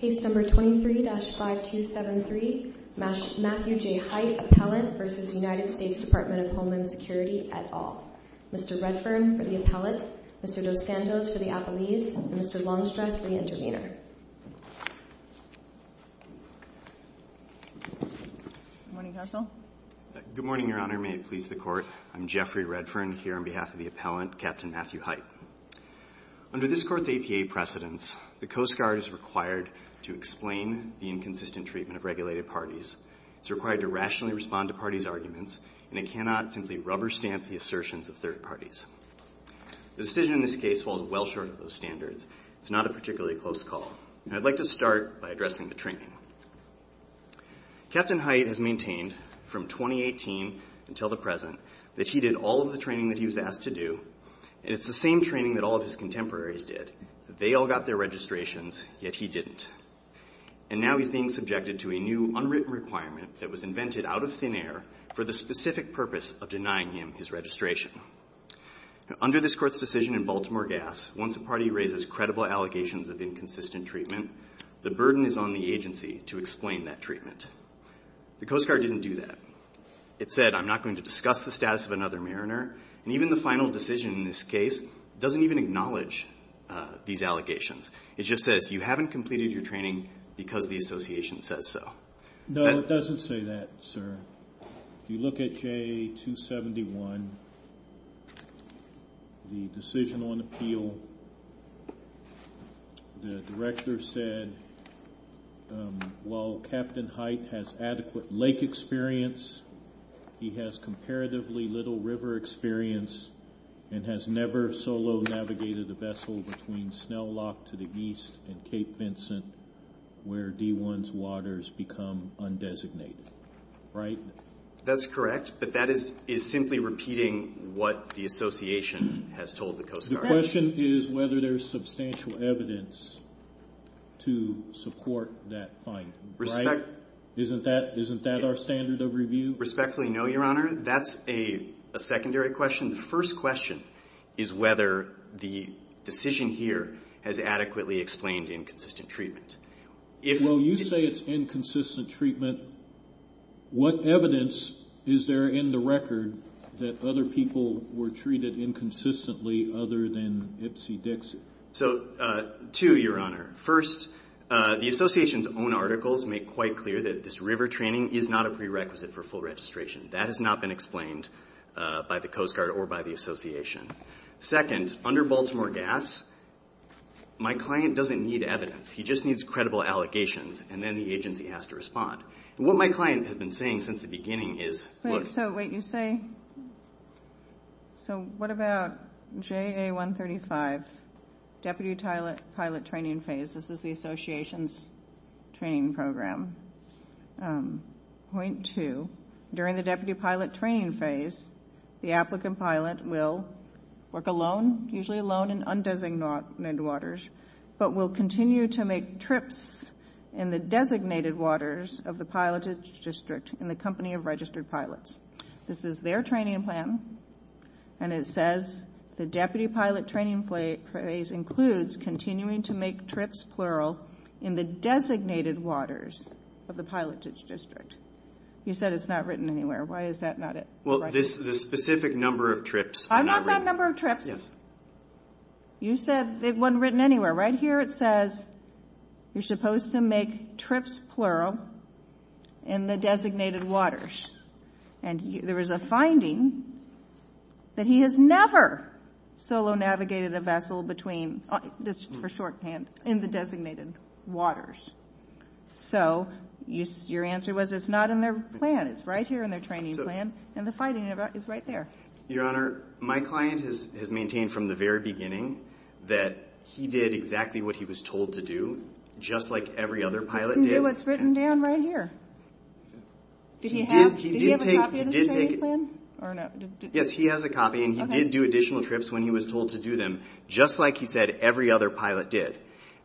23-5273 Matthew J. Hight v. United States Department of Homeland Security et al. Mr. Redfern for the appellate, Mr. Lozando for the appellees, and Mr. Longstress for the intervener. Good morning, Your Honor. May it please the Court. I'm Jeffrey Redfern, here on behalf of the appellant, Captain Matthew Hight. Under this Court's APA precedence, the Coast Guard is required to explain the inconsistent treatment of regulated parties. It's required to rationally respond to parties' arguments, and it cannot simply rubber stamp the assertions of third parties. The decision in this case falls well short of those standards. It's not a particularly close call. And I'd like to start by addressing the training. Captain Hight has maintained, from 2018 until the present, that he did all of the training that he was asked to do, and it's the same training that all of his contemporaries did. They all got their registrations, yet he didn't. And now he's being subjected to a new, unwritten requirement that was invented out of thin air for the specific purpose of denying him his registration. Under this Court's decision in Baltimore Gas, once a party raises credible allegations of inconsistent treatment, the burden is on the agency to explain that treatment. The Coast Guard didn't do that. It said, I'm not going to discuss the status of another mariner. And even the final decision in this case doesn't even acknowledge these allegations. It just said, you haven't completed your training because the association says so. No, it doesn't say that, sir. You look at JA-271, the decision on appeal. The director said, while Captain Hight has adequate lake experience, he has comparatively little river experience and has never solo navigated a vessel between Snell Lock to the east and Cape Vincent, where D1's waters become undesignated. Right? That's correct, but that is simply repeating what the association has told the Coast Guard. Our question is whether there's substantial evidence to support that finding. Right? Isn't that our standard of review? Respectfully, no, Your Honor. That's a secondary question. The first question is whether the decision here has adequately explained inconsistent treatment. Well, you say it's inconsistent treatment. What evidence is there in the record that other people were treated inconsistently other than Ipsy Dixie? So, two, Your Honor. First, the association's own articles make quite clear that this river training is not a prerequisite for full registration. That has not been explained by the Coast Guard or by the association. Second, under Baltimore Gas, my client doesn't need evidence. He just needs credible allegations, and then the agency has to respond. What my client has been saying since the beginning is... So, wait, you say... So, what about JA 135, Deputy Pilot Training Phase? This is the association's training program. Point two, during the Deputy Pilot Training Phase, the applicant pilot will work alone, usually alone in undesignated waters, but will continue to make trips in the designated waters of the pilotage district in the company of registered pilots. This is their training plan, and it says, the Deputy Pilot Training Phase includes continuing to make trips, plural, in the designated waters of the pilotage district. You said it's not written anywhere. Why is that not it? Well, the specific number of trips... I want that number of trips. You said it wasn't written anywhere. Right here it says you're supposed to make trips, plural, in the designated waters. And there was a finding that he has never solo navigated a vessel between, just for shorthand, in the designated waters. So, your answer was it's not in their plan. It's right here in their training plan, and the finding is right there. Your Honor, my client has maintained from the very beginning that he did exactly what he was told to do, just like every other pilot did. It's written down right here. Did he have a copy of the training plan? Yes, he has a copy, and he did do additional trips when he was told to do them, just like he said every other pilot did.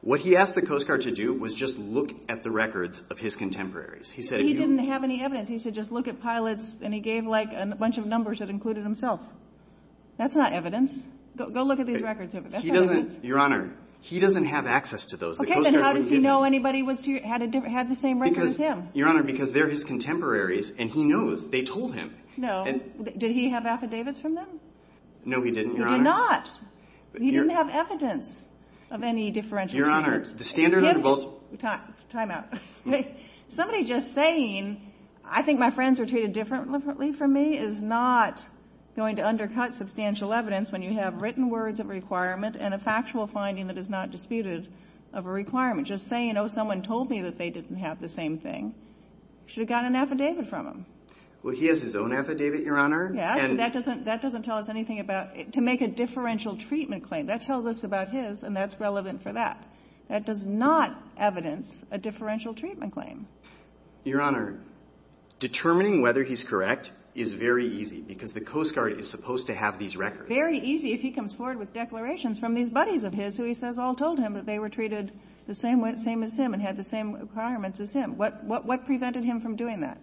What he asked the Coast Guard to do was just look at the records of his contemporaries. He didn't have any evidence. He said just look at pilots, and he gave a bunch of numbers that included himself. That's not evidence. Go look at these records. Your Honor, he doesn't have access to those. Okay, then how does he know anybody had the same record as him? Your Honor, because they're his contemporaries, and he knows. They told him. No. Did he have affidavits from them? No, he didn't, Your Honor. He did not. He didn't have evidence of any differential... Your Honor, the standard... Time out. Somebody just saying, I think my friends were treated differently from me is not going to undercut substantial evidence when you have written words of requirement and a factual finding that is not disputed of a requirement. Just saying, oh, someone told me that they didn't have the same thing, should have gotten an affidavit from him. Well, he has his own affidavit, Your Honor. That doesn't tell us anything about... To make a differential treatment claim, that tells us about his, and that's relevant for that. That does not evidence a differential treatment claim. Your Honor, determining whether he's correct is very easy because the Coast Guard is supposed to have these records. Very easy if he comes forward with declarations from these buddies of his who he says all told him that they were treated the same as him and had the same requirements as him. What prevented him from doing that?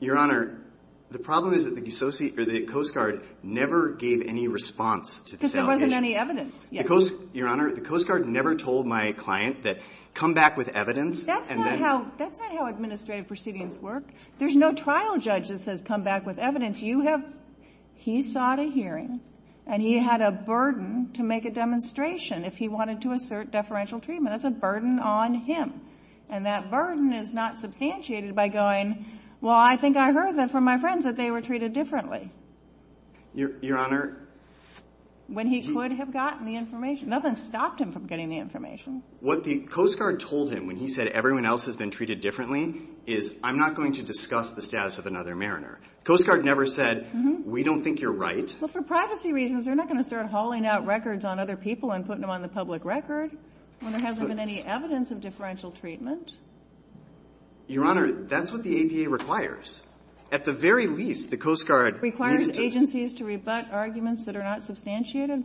Your Honor, the problem is that the Coast Guard never gave any response... Because there wasn't any evidence. Your Honor, the Coast Guard never told my client that come back with evidence... That's not how administrative proceedings work. There's no trial judge that says come back with evidence. He sought a hearing and he had a burden to make a demonstration if he wanted to assert differential treatment. That's a burden on him. And that burden is not substantiated by going, well, I think I heard this from my friends that they were treated differently. Your Honor... When he could have gotten the information. Nothing stopped him from getting the information. What the Coast Guard told him when he said everyone else has been treated differently is I'm not going to discuss the status of another mariner. The Coast Guard never said we don't think you're right. Well, for privacy reasons, they're not going to start hauling out records on other people and putting them on the public record when there hasn't been any evidence of differential treatment. Your Honor, that's what the ADA requires. At the very least, the Coast Guard... It requires agencies to rebut arguments that are not substantiated?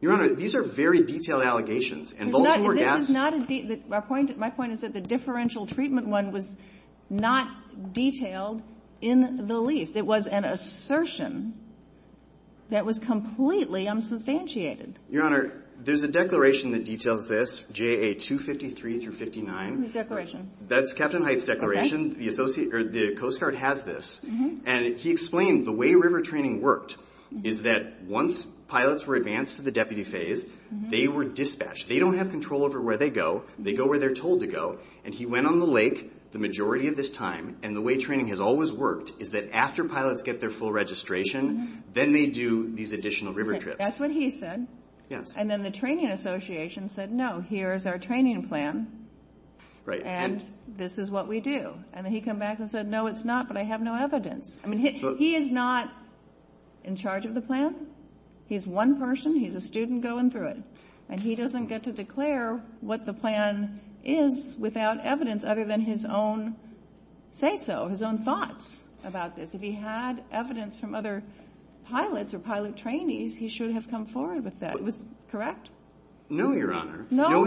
Your Honor, these are very detailed allegations. My point is that the differential treatment one was not detailed in the leaf. It was an assertion that was completely unsubstantiated. Your Honor, there's a declaration that details this, JA 253-59. What's the declaration? That's Captain Hite's declaration. The Coast Guard has this. He explained the way river training worked is that once pilots were advanced to the deputy phase, they were dispatched. They don't have control over where they go. They go where they're told to go. He went on the lake the majority of this time, and the way training has always worked is that after pilots get their full registration, then they do these additional river trips. That's what he said. Yes. Then the training association said, no, here's our training plan, and this is what we do. He came back and said, no, it's not, but I have no evidence. He is not in charge of the plan. He's one person. He's a student going through it, and he doesn't get to declare what the plan is without evidence other than his own say-so, his own thoughts about this. If he had evidence from other pilots or pilot trainees, he shouldn't have come forward with that. Correct? No, Your Honor. No?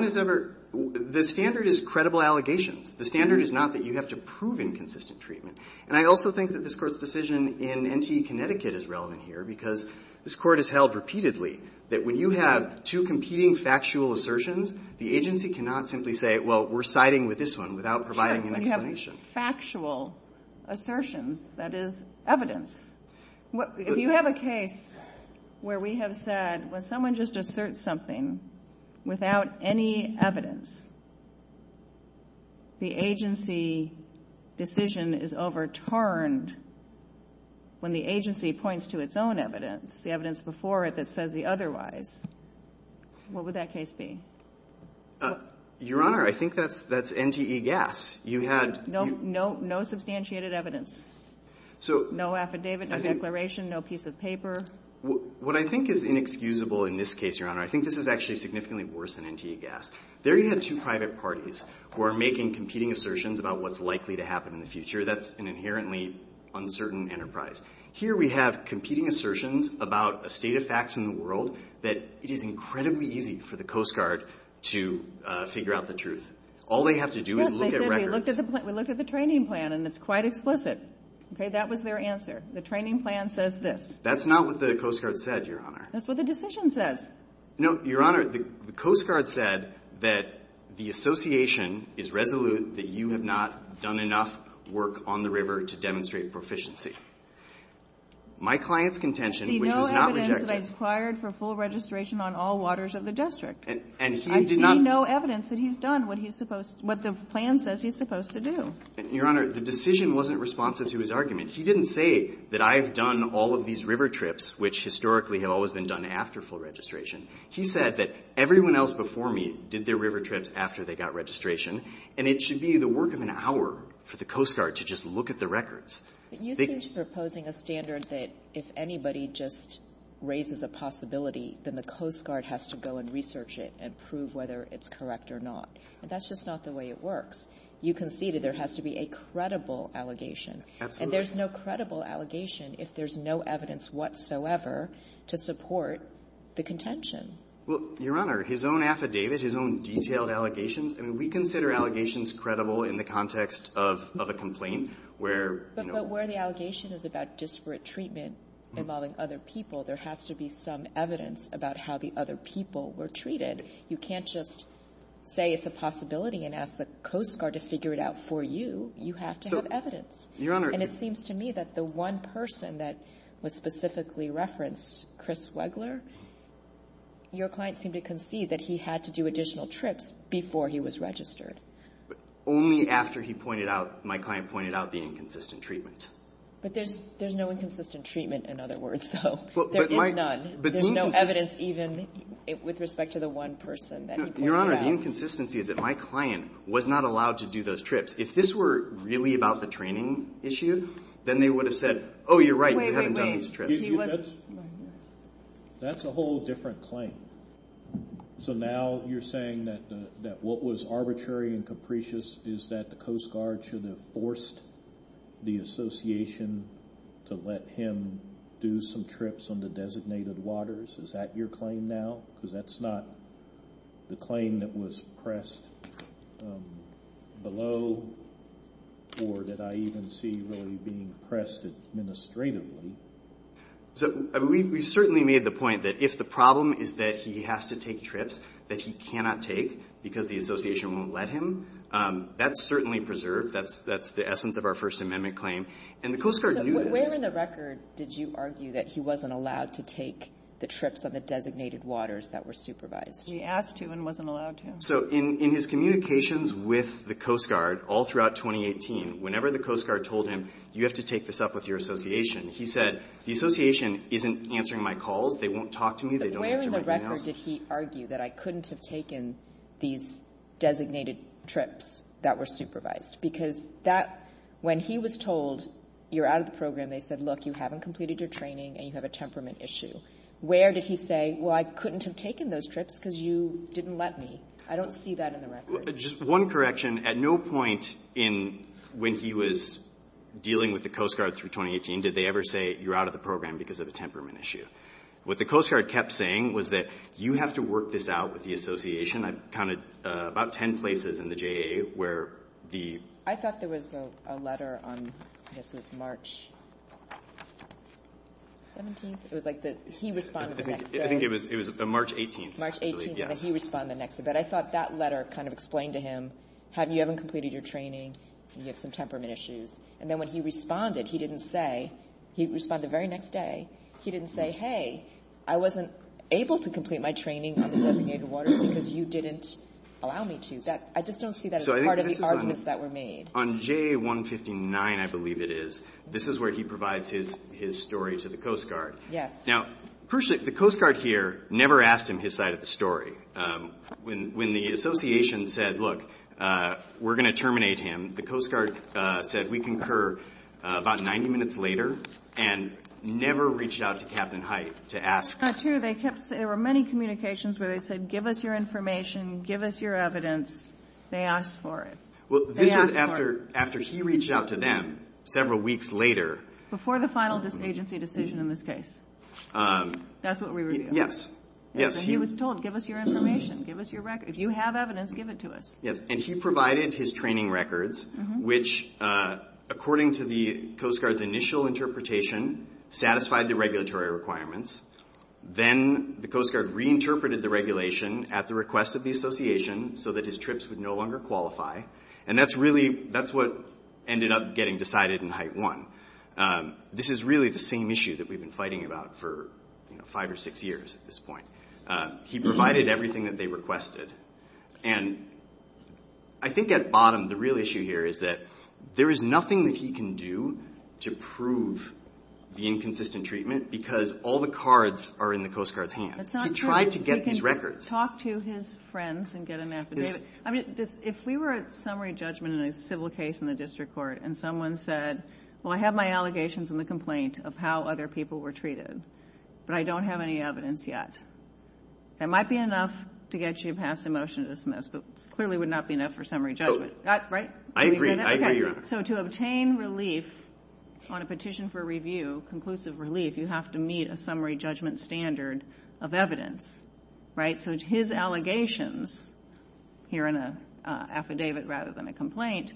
The standard is credible allegations. The standard is not that you have to prove inconsistent treatment, and I also think that this court's decision in NT Connecticut is relevant here because this court has held repeatedly that when you have two competing factual assertions, the agency cannot simply say, well, we're siding with this one without providing an explanation. You have factual assertions. That is evidence. You have a case where we have said, when someone just asserts something without any evidence, the agency decision is overturned when the agency points to its own evidence, the evidence before it that says the otherwise. What would that case be? Your Honor, I think that's NGE gas. No substantiated evidence. No affidavit, no declaration, no piece of paper. What I think is inexcusable in this case, Your Honor, I think this is actually significantly worse than NGE gas. There you have two private parties who are making competing assertions about what's likely to happen in the future. That's an inherently uncertain enterprise. Here we have competing assertions about a state of facts in the world that it is incredibly easy for the Coast Guard to figure out the truth. All they have to do is look at records. We looked at the training plan, and it's quite explicit. That was their answer. The training plan says this. That's not what the Coast Guard said, Your Honor. That's what the decision says. No, Your Honor, the Coast Guard said that the association is resolute that you have not done enough work on the river to demonstrate proficiency. My client's contention was not rejected. He did not have evidence that I've required for full registration on all waters of the district. I see no evidence that he's done what the plan says he's supposed to do. Your Honor, the decision wasn't responsive to his argument. He didn't say that I've done all of these river trips, which historically have always been done after full registration. He said that everyone else before me did their river trips after they got registration, and it should be the work of an hour for the Coast Guard to just look at the records. You think you're imposing a standard that if anybody just raises a possibility, then the Coast Guard has to go and research it and prove whether it's correct or not, and that's just not the way it works. You conceded there has to be a credible allegation, and there's no credible allegation if there's no evidence whatsoever to support the contention. Well, Your Honor, his own affidavit, his own detailed allegation, we consider allegations credible in the context of a complaint where, you know. But where the allegation is about disparate treatment involving other people, there has to be some evidence about how the other people were treated. You can't just say it's a possibility and ask the Coast Guard to figure it out for you. You have to have evidence. And it seems to me that the one person that was specifically referenced, Chris Wegler, your client seemed to concede that he had to do additional trips before he was registered. Only after he pointed out, my client pointed out the inconsistent treatment. But there's no inconsistent treatment, in other words, though. There is none. There's no evidence even with respect to the one person that he pointed out. Your Honor, the inconsistency is that my client was not allowed to do those trips. If this were really about the training issue, then they would have said, oh, you're right, you haven't done these trips. That's a whole different claim. So now you're saying that what was arbitrary and capricious is that the Coast Guard should have forced the association to let him do some trips on the designated waters. Is that your claim now? Because that's not the claim that was pressed below or that I even see really being pressed administratively. We certainly made the point that if the problem is that he has to take trips that he cannot take because the association won't let him, that's certainly preserved. That's the essence of our First Amendment claim. And the Coast Guard knew that. So where in the record did you argue that he wasn't allowed to take the trips on the designated waters that were supervised? He asked to and wasn't allowed to. So in his communications with the Coast Guard all throughout 2018, whenever the Coast Guard told him, you have to take this up with your association, he said, the association isn't answering my calls. They won't talk to me. They don't answer my emails. Where did he argue that I couldn't have taken these designated trips that were supervised? Because when he was told, you're out of the program, they said, look, you haven't completed your training and you have a temperament issue. Where did he say, well, I couldn't have taken those trips because you didn't let me? I don't see that in the record. Just one correction. At no point when he was dealing with the Coast Guard through 2018 did they ever say, you're out of the program because of a temperament issue. What the Coast Guard kept saying was that you have to work this out with the association. I counted about ten places in the JA where the ‑‑ I thought there was a letter on, I guess it was March 17th. It was like he responded the next day. I think it was March 18th, actually. March 18th, and then he responded the next day. But I thought that letter kind of explained to him, you haven't completed your training and you have some temperament issues. And then when he responded, he didn't say, he responded the very next day, he didn't say, hey, I wasn't able to complete my training on the designated waters because you didn't allow me to. I just don't see that as part of the arguments that were made. On JA 159, I believe it is, this is where he provides his story to the Coast Guard. Now, personally, the Coast Guard here never asked him his side of the story. When the association said, look, we're going to terminate him, the Coast Guard said, we concur, about 90 minutes later, and never reached out to Captain Hite to ask. True, there were many communications where they said, give us your information, give us your evidence, they asked for it. Well, this is after he reached out to them several weeks later. Before the final agency decision in this case. That's what we were doing. Yes. He was told, give us your information, give us your record. If you have evidence, give it to us. And he provided his training records, which according to the Coast Guard's initial interpretation, satisfied the regulatory requirements. Then the Coast Guard reinterpreted the regulation at the request of the association so that his trips would no longer qualify. And that's what ended up getting decided in Hite 1. This is really the same issue that we've been fighting about for five or six years at this point. He provided everything that they requested. And I think at bottom, the real issue here is that there is nothing that he can do to prove the inconsistent treatment because all the cards are in the Coast Guard's hands. He tried to get his records. Talk to his friends and get an affidavit. I mean, if we were at summary judgment in a civil case in the district court and someone said, well, I have my allegations in the complaint of how other people were treated, but I don't have any evidence yet. It might be enough to get you past the motion to dismiss, but clearly would not be enough for summary judgment. I agree. So to obtain relief on a petition for review, conclusive relief, you have to meet a summary judgment standard of evidence. So his allegations here in an affidavit rather than a complaint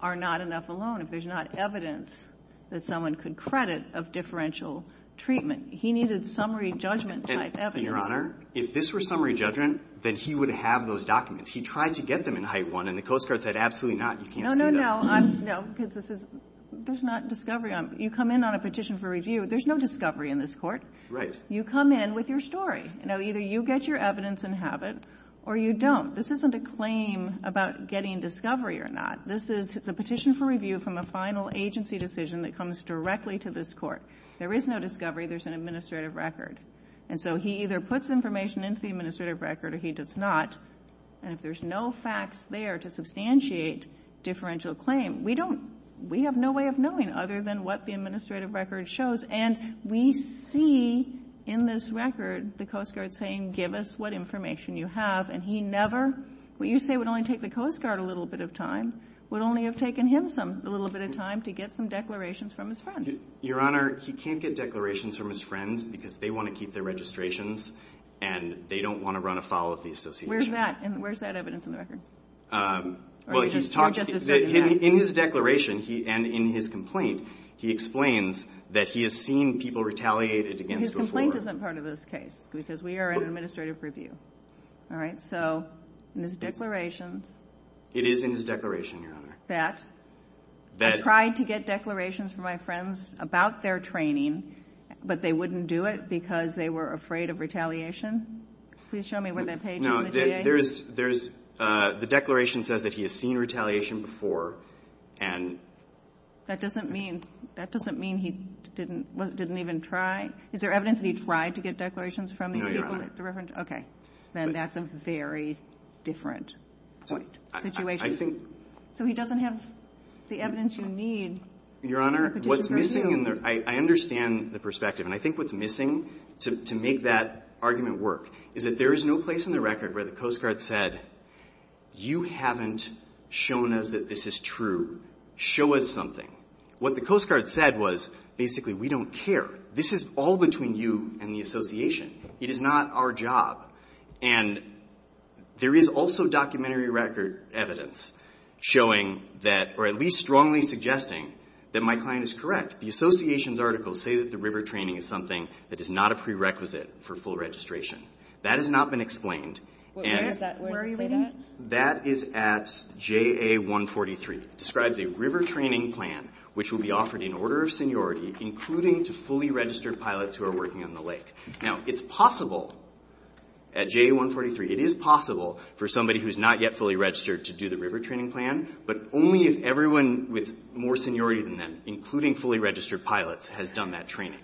are not enough alone. If there's not evidence that someone could credit of differential treatment, he needed summary judgment type evidence. And, Your Honor, if this were summary judgment, then he would have those documents. He tried to get them in height one, and the Coast Guard said, absolutely not, you can't do that. No, no, no, because this is, there's not discovery. You come in on a petition for review, there's no discovery in this court. Right. You come in with your story. Now, either you get your evidence and have it, or you don't. This isn't a claim about getting discovery or not. This is a petition for review from a final agency decision that comes directly to this court. There is no discovery. There's an administrative record. And so he either puts information into the administrative record, or he does not. And if there's no facts there to substantiate differential claim, we don't, we have no way of knowing other than what the administrative record shows. And we see in this record the Coast Guard saying, give us what information you have. And he never, what you say would only take the Coast Guard a little bit of time, would only have taken him a little bit of time to get some declarations from his friend. Your Honor, he can't get declarations from his friends because they want to keep their registrations and they don't want to run afoul of the association. Where's that? And where's that evidence in the record? Well, he's talked, in his declaration and in his complaint, he explains that he has seen people retaliated against before. His complaint isn't part of this case because we are an administrative review. All right. So, in his declaration. It is in his declaration, Your Honor. That he tried to get declarations from my friends about their training, but they wouldn't do it because they were afraid of retaliation. Please show me where that page is. No, there's, the declaration says that he has seen retaliation before and... That doesn't mean, that doesn't mean he didn't even try. Is there evidence that he tried to get declarations from these people? Okay. Then that's a very different situation. I think... So he doesn't have the evidence you need. Your Honor, what's missing, and I understand the perspective, and I think what's missing, to make that argument work, is that there is no place in the record where the Coast Guard said, you haven't shown us that this is true. Show us something. What the Coast Guard said was, basically, we don't care. This is all between you and the association. It is not our job. And there is also documentary record evidence showing that, or at least strongly suggesting that my client is correct. The association's articles say that the river training is something that is not a prerequisite for full registration. That has not been explained. Where is that? Where are you looking at? That is at JA 143. It describes a river training plan which will be offered in order of seniority, including to fully registered pilots who are working on the lake. Now, it's possible at JA 143, it is possible for somebody who's not yet fully registered to do the river training plan, but only if everyone with more seniority than them, including fully registered pilots, has done that training.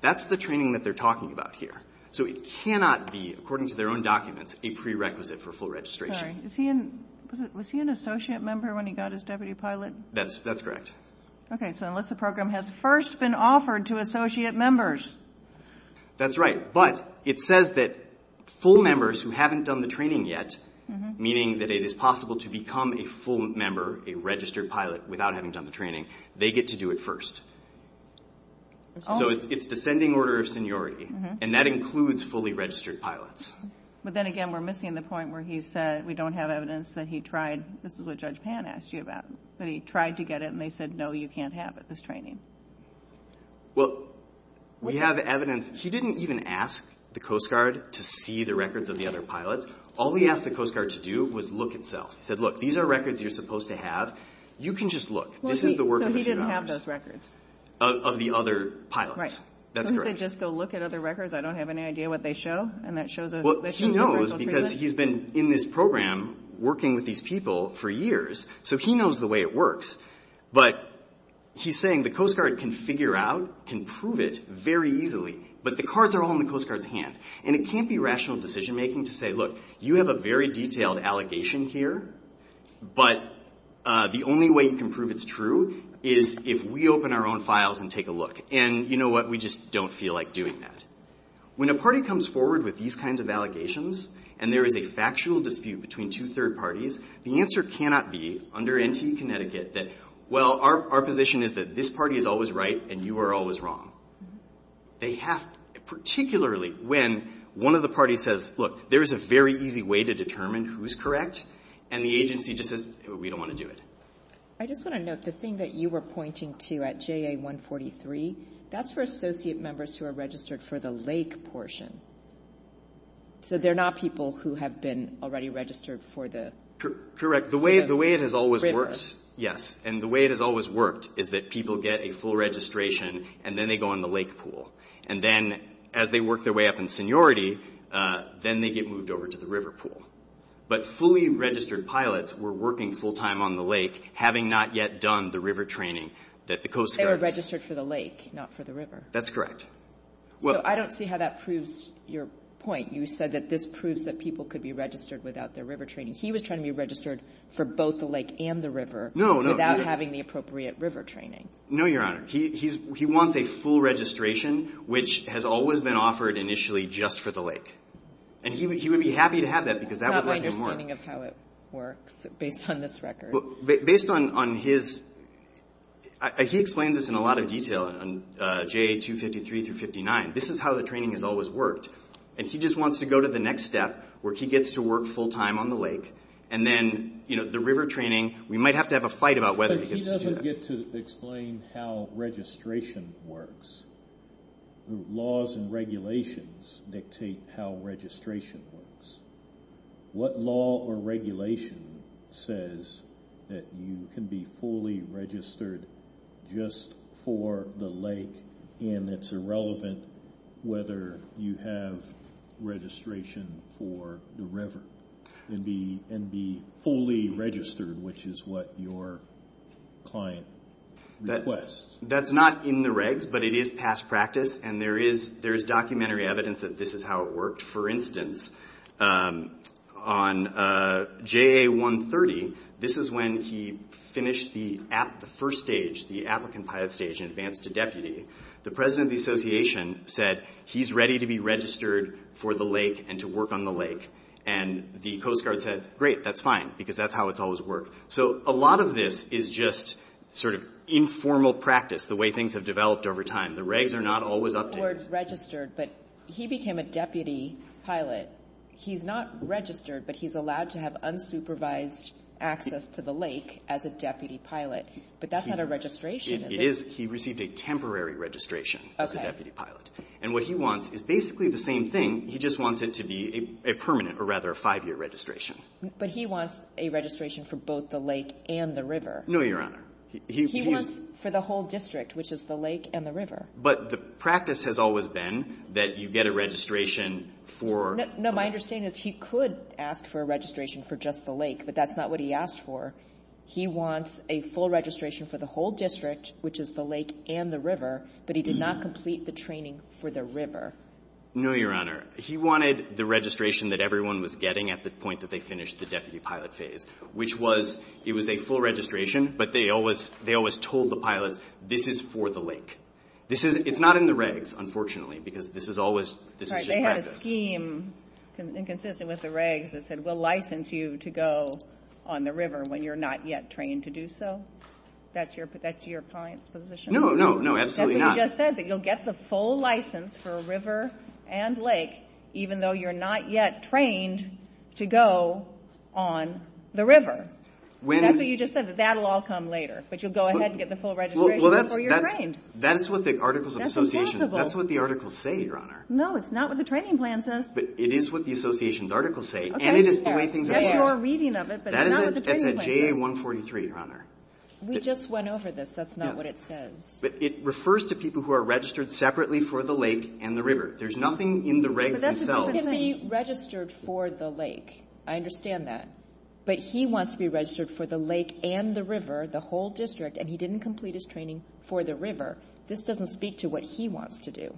That's the training that they're talking about here. So it cannot be, according to their own documents, a prerequisite for full registration. Was he an associate member when he got his deputy pilot? That's correct. Okay, so unless the program has first been offered to associate members. That's right, but it says that full members who haven't done the training yet, meaning that it is possible to become a full member, a registered pilot without having done the training, they get to do it first. So it's descending order of seniority, and that includes fully registered pilots. But then again, we're missing the point where he said we don't have evidence that he tried, this is what Judge Pan asked you about, that he tried to get it, and they said, no, you can't have it, this training. Well, we have evidence. He didn't even ask the Coast Guard to see the records of the other pilots. All we asked the Coast Guard to do was look itself. He said, look, these are records you're supposed to have. You can just look. So he didn't have those records? Of the other pilots, that's correct. Didn't they just go look at other records? I don't have any idea what they show. Well, he knows because he's been in this program working with these people for years, so he knows the way it works. But he's saying the Coast Guard can figure out, can prove it very easily, but the cards are all in the Coast Guard's hand. And it can't be rational decision-making to say, look, you have a very detailed allegation here, but the only way you can prove it's true is if we open our own files and take a look. And you know what? We just don't feel like doing that. When a party comes forward with these kinds of allegations and there is a factual dispute between two third parties, the answer cannot be under NT Connecticut that, well, our position is that this party is always right and you are always wrong. Particularly when one of the parties says, look, there is a very easy way to determine who is correct, and the agency just says, we don't want to do it. I just want to note the thing that you were pointing to at JA143, that's for associate members who are registered for the lake portion. So they're not people who have been already registered for the river. Correct. The way it has always worked, yes, and the way it has always worked is that people get a full registration and then they go on the lake pool. And then as they work their way up in seniority, then they get moved over to the river pool. But fully registered pilots were working full-time on the lake, having not yet done the river training that the Coast Guard had. They were registered for the lake, not for the river. That's correct. I don't see how that proves your point. You said that this proves that people could be registered without their river training. He was trying to be registered for both the lake and the river without having the appropriate river training. No, Your Honor. He wants a full registration, which has always been offered initially just for the lake. And he would be happy to have that because that would like him more. I'm just wondering how it works based on this record. Based on his – he explained this in a lot of detail. On JA 253 through 59, this is how the training has always worked. And he just wants to go to the next step where he gets to work full-time on the lake and then, you know, the river training. We might have to have a fight about whether he gets to do that. But he doesn't get to explain how registration works. The laws and regulations dictate how registration works. What law or regulation says that you can be fully registered just for the lake and it's irrelevant whether you have registration for the river and be fully registered, which is what your client requests? That's not in the regs, but it is past practice. And there is documentary evidence that this is how it worked. For instance, on JA 130, this is when he finished the first stage, the applicant pilot stage and advanced to deputy. The president of the association said he's ready to be registered for the lake and to work on the lake. And the Coast Guard said, great, that's fine because that's how it's always worked. So a lot of this is just sort of informal practice, the way things have developed over time. The regs are not always up there. So he's registered, but he became a deputy pilot. He's not registered, but he's allowed to have unsupervised access to the lake as a deputy pilot, but that's not a registration, is it? It is. He received a temporary registration as a deputy pilot. And what he wants is basically the same thing. He just wants it to be a permanent, or rather a five-year registration. But he wants a registration for both the lake and the river. No, Your Honor. He wants for the whole district, which is the lake and the river. But the practice has always been that you get a registration for... No, my understanding is he could ask for a registration for just the lake, but that's not what he asked for. He wants a full registration for the whole district, which is the lake and the river, but he did not complete the training for the river. No, Your Honor. He wanted the registration that everyone was getting at the point that they finished the deputy pilot phase, which was it was a full registration, but they always told the pilot, this is for the lake. It's not in the regs, unfortunately, because this is always... Right, they had a scheme inconsistent with the regs that said, we'll license you to go on the river when you're not yet trained to do so. That's your position? No, no, no, absolutely not. But you just said that you'll get the full license for a river and lake even though you're not yet trained to go on the river. That's what you just said, that that'll all come later, but you'll go ahead and get the full registration before you're trained. That's what the articles of association, that's what the articles say, Your Honor. No, it's not what the training plan says. But it is what the association articles say, and it is the way things are going. There's more reading of it, but it's not what the training plan says. That is at the JA-143, Your Honor. We just went over this, that's not what it says. But it refers to people who are registered separately for the lake and the river. There's nothing in the regs themselves. But that person can be registered for the lake. I understand that. But he wants to be registered for the lake and the river, the whole district, and he didn't complete his training for the river. This doesn't speak to what he wants to do.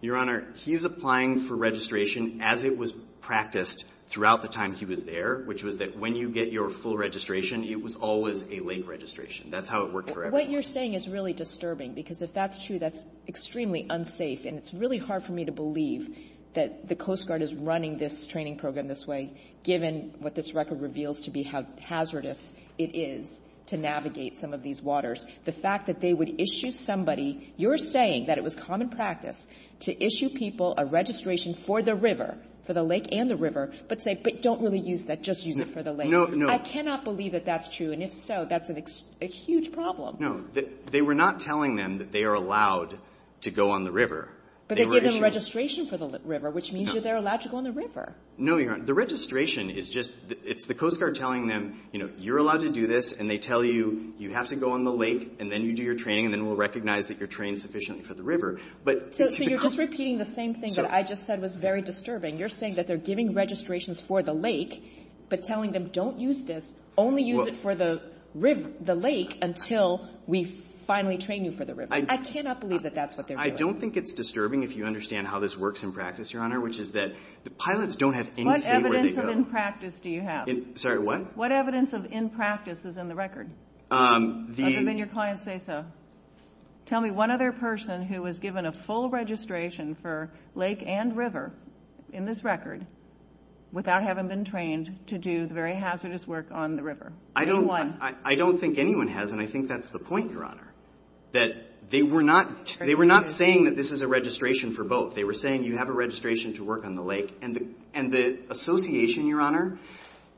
Your Honor, he's applying for registration as it was practiced throughout the time he was there, which was that when you get your full registration, it was always a lake registration. That's how it worked for everybody. What you're saying is really disturbing, because if that's true, that's extremely unsafe, and it's really hard for me to believe that the Coast Guard is running this training program this way, given what this record reveals to be how hazardous it is to navigate some of these waters. The fact that they would issue somebody, you're saying that it was common practice, to issue people a registration for the river, for the lake and the river, but say, but don't really use that, just use it for the lake. I cannot believe that that's true, and if so, that's a huge problem. No, they were not telling them that they are allowed to go on the river. But they gave them registration for the river, which means that they're allowed to go on the river. No, Your Honor. The registration is just the Coast Guard telling them, you know, you're allowed to do this, and they tell you, you have to go on the lake, and then you do your training, and then we'll recognize that you're trained sufficiently for the river. So you're just repeating the same thing that I just said was very disturbing. You're saying that they're giving registrations for the lake, but telling them, don't use this, only use it for the lake until we finally train you for the river. I cannot believe that that's what they're doing. I don't think it's disturbing if you understand how this works in practice, Your Honor, which is that the pilots don't have any say where they go. What evidence of in practice do you have? Sorry, what? What evidence of in practice is in the record, other than your client's FASA? Tell me one other person who was given a full registration for lake and river in this record without having been trained to do the very hazardous work on the river? I don't think anyone has, and I think that's the point, Your Honor, that they were not saying that this is a registration for both. They were saying you have a registration to work on the lake, and the association, Your Honor,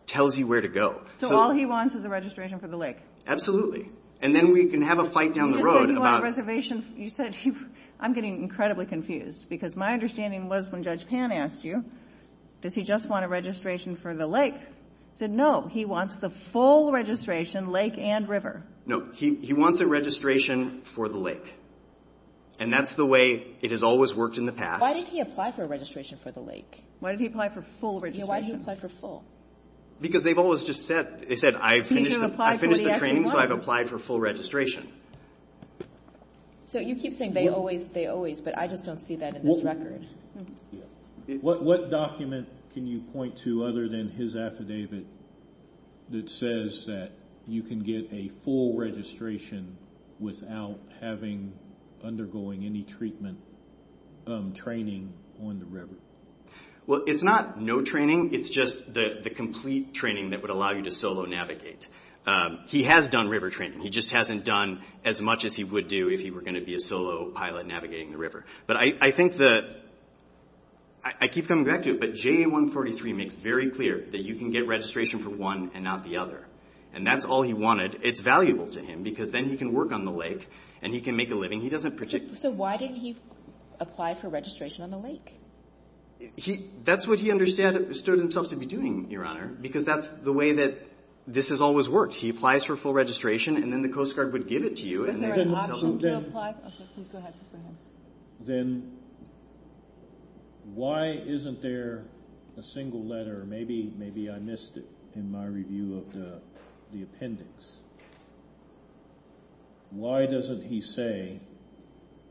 tells you where to go. So all he wants is a registration for the lake? Absolutely. And then we can have a fight down the road about it. You said, I'm getting incredibly confused, because my understanding was when Judge Pan asked you, does he just want a registration for the lake? He said, no, he wants the full registration, lake and river. No, he wants a registration for the lake. And that's the way it has always worked in the past. Why did he apply for a registration for the lake? Why did he apply for full registration? Why did he apply for full? Because they've always just said, I finished the training, so I've applied for full registration. So you keep saying they always say always, but I just don't see that in his record. What document can you point to other than his affidavit that says that you can get a full registration without having, undergoing any treatment, training on the river? Well, it's not no training. It's just the complete training that would allow you to solo navigate. He has done river training. He just hasn't done as much as he would do if he were going to be a solo pilot navigating the river. But I think that, I keep coming back to it, but JA-143 makes very clear that you can get registration for one and not the other. And that's all he wanted. It's valuable to him, because then he can work on the lake, and he can make a living. So why did he apply for registration on the lake? That's what he understood himself to be doing, Your Honor, because that's the way that this has always worked. He applies for full registration, and then the Coast Guard would give it to you. Then why isn't there a single letter? Maybe I missed it in my review of the appendix. Why doesn't he say,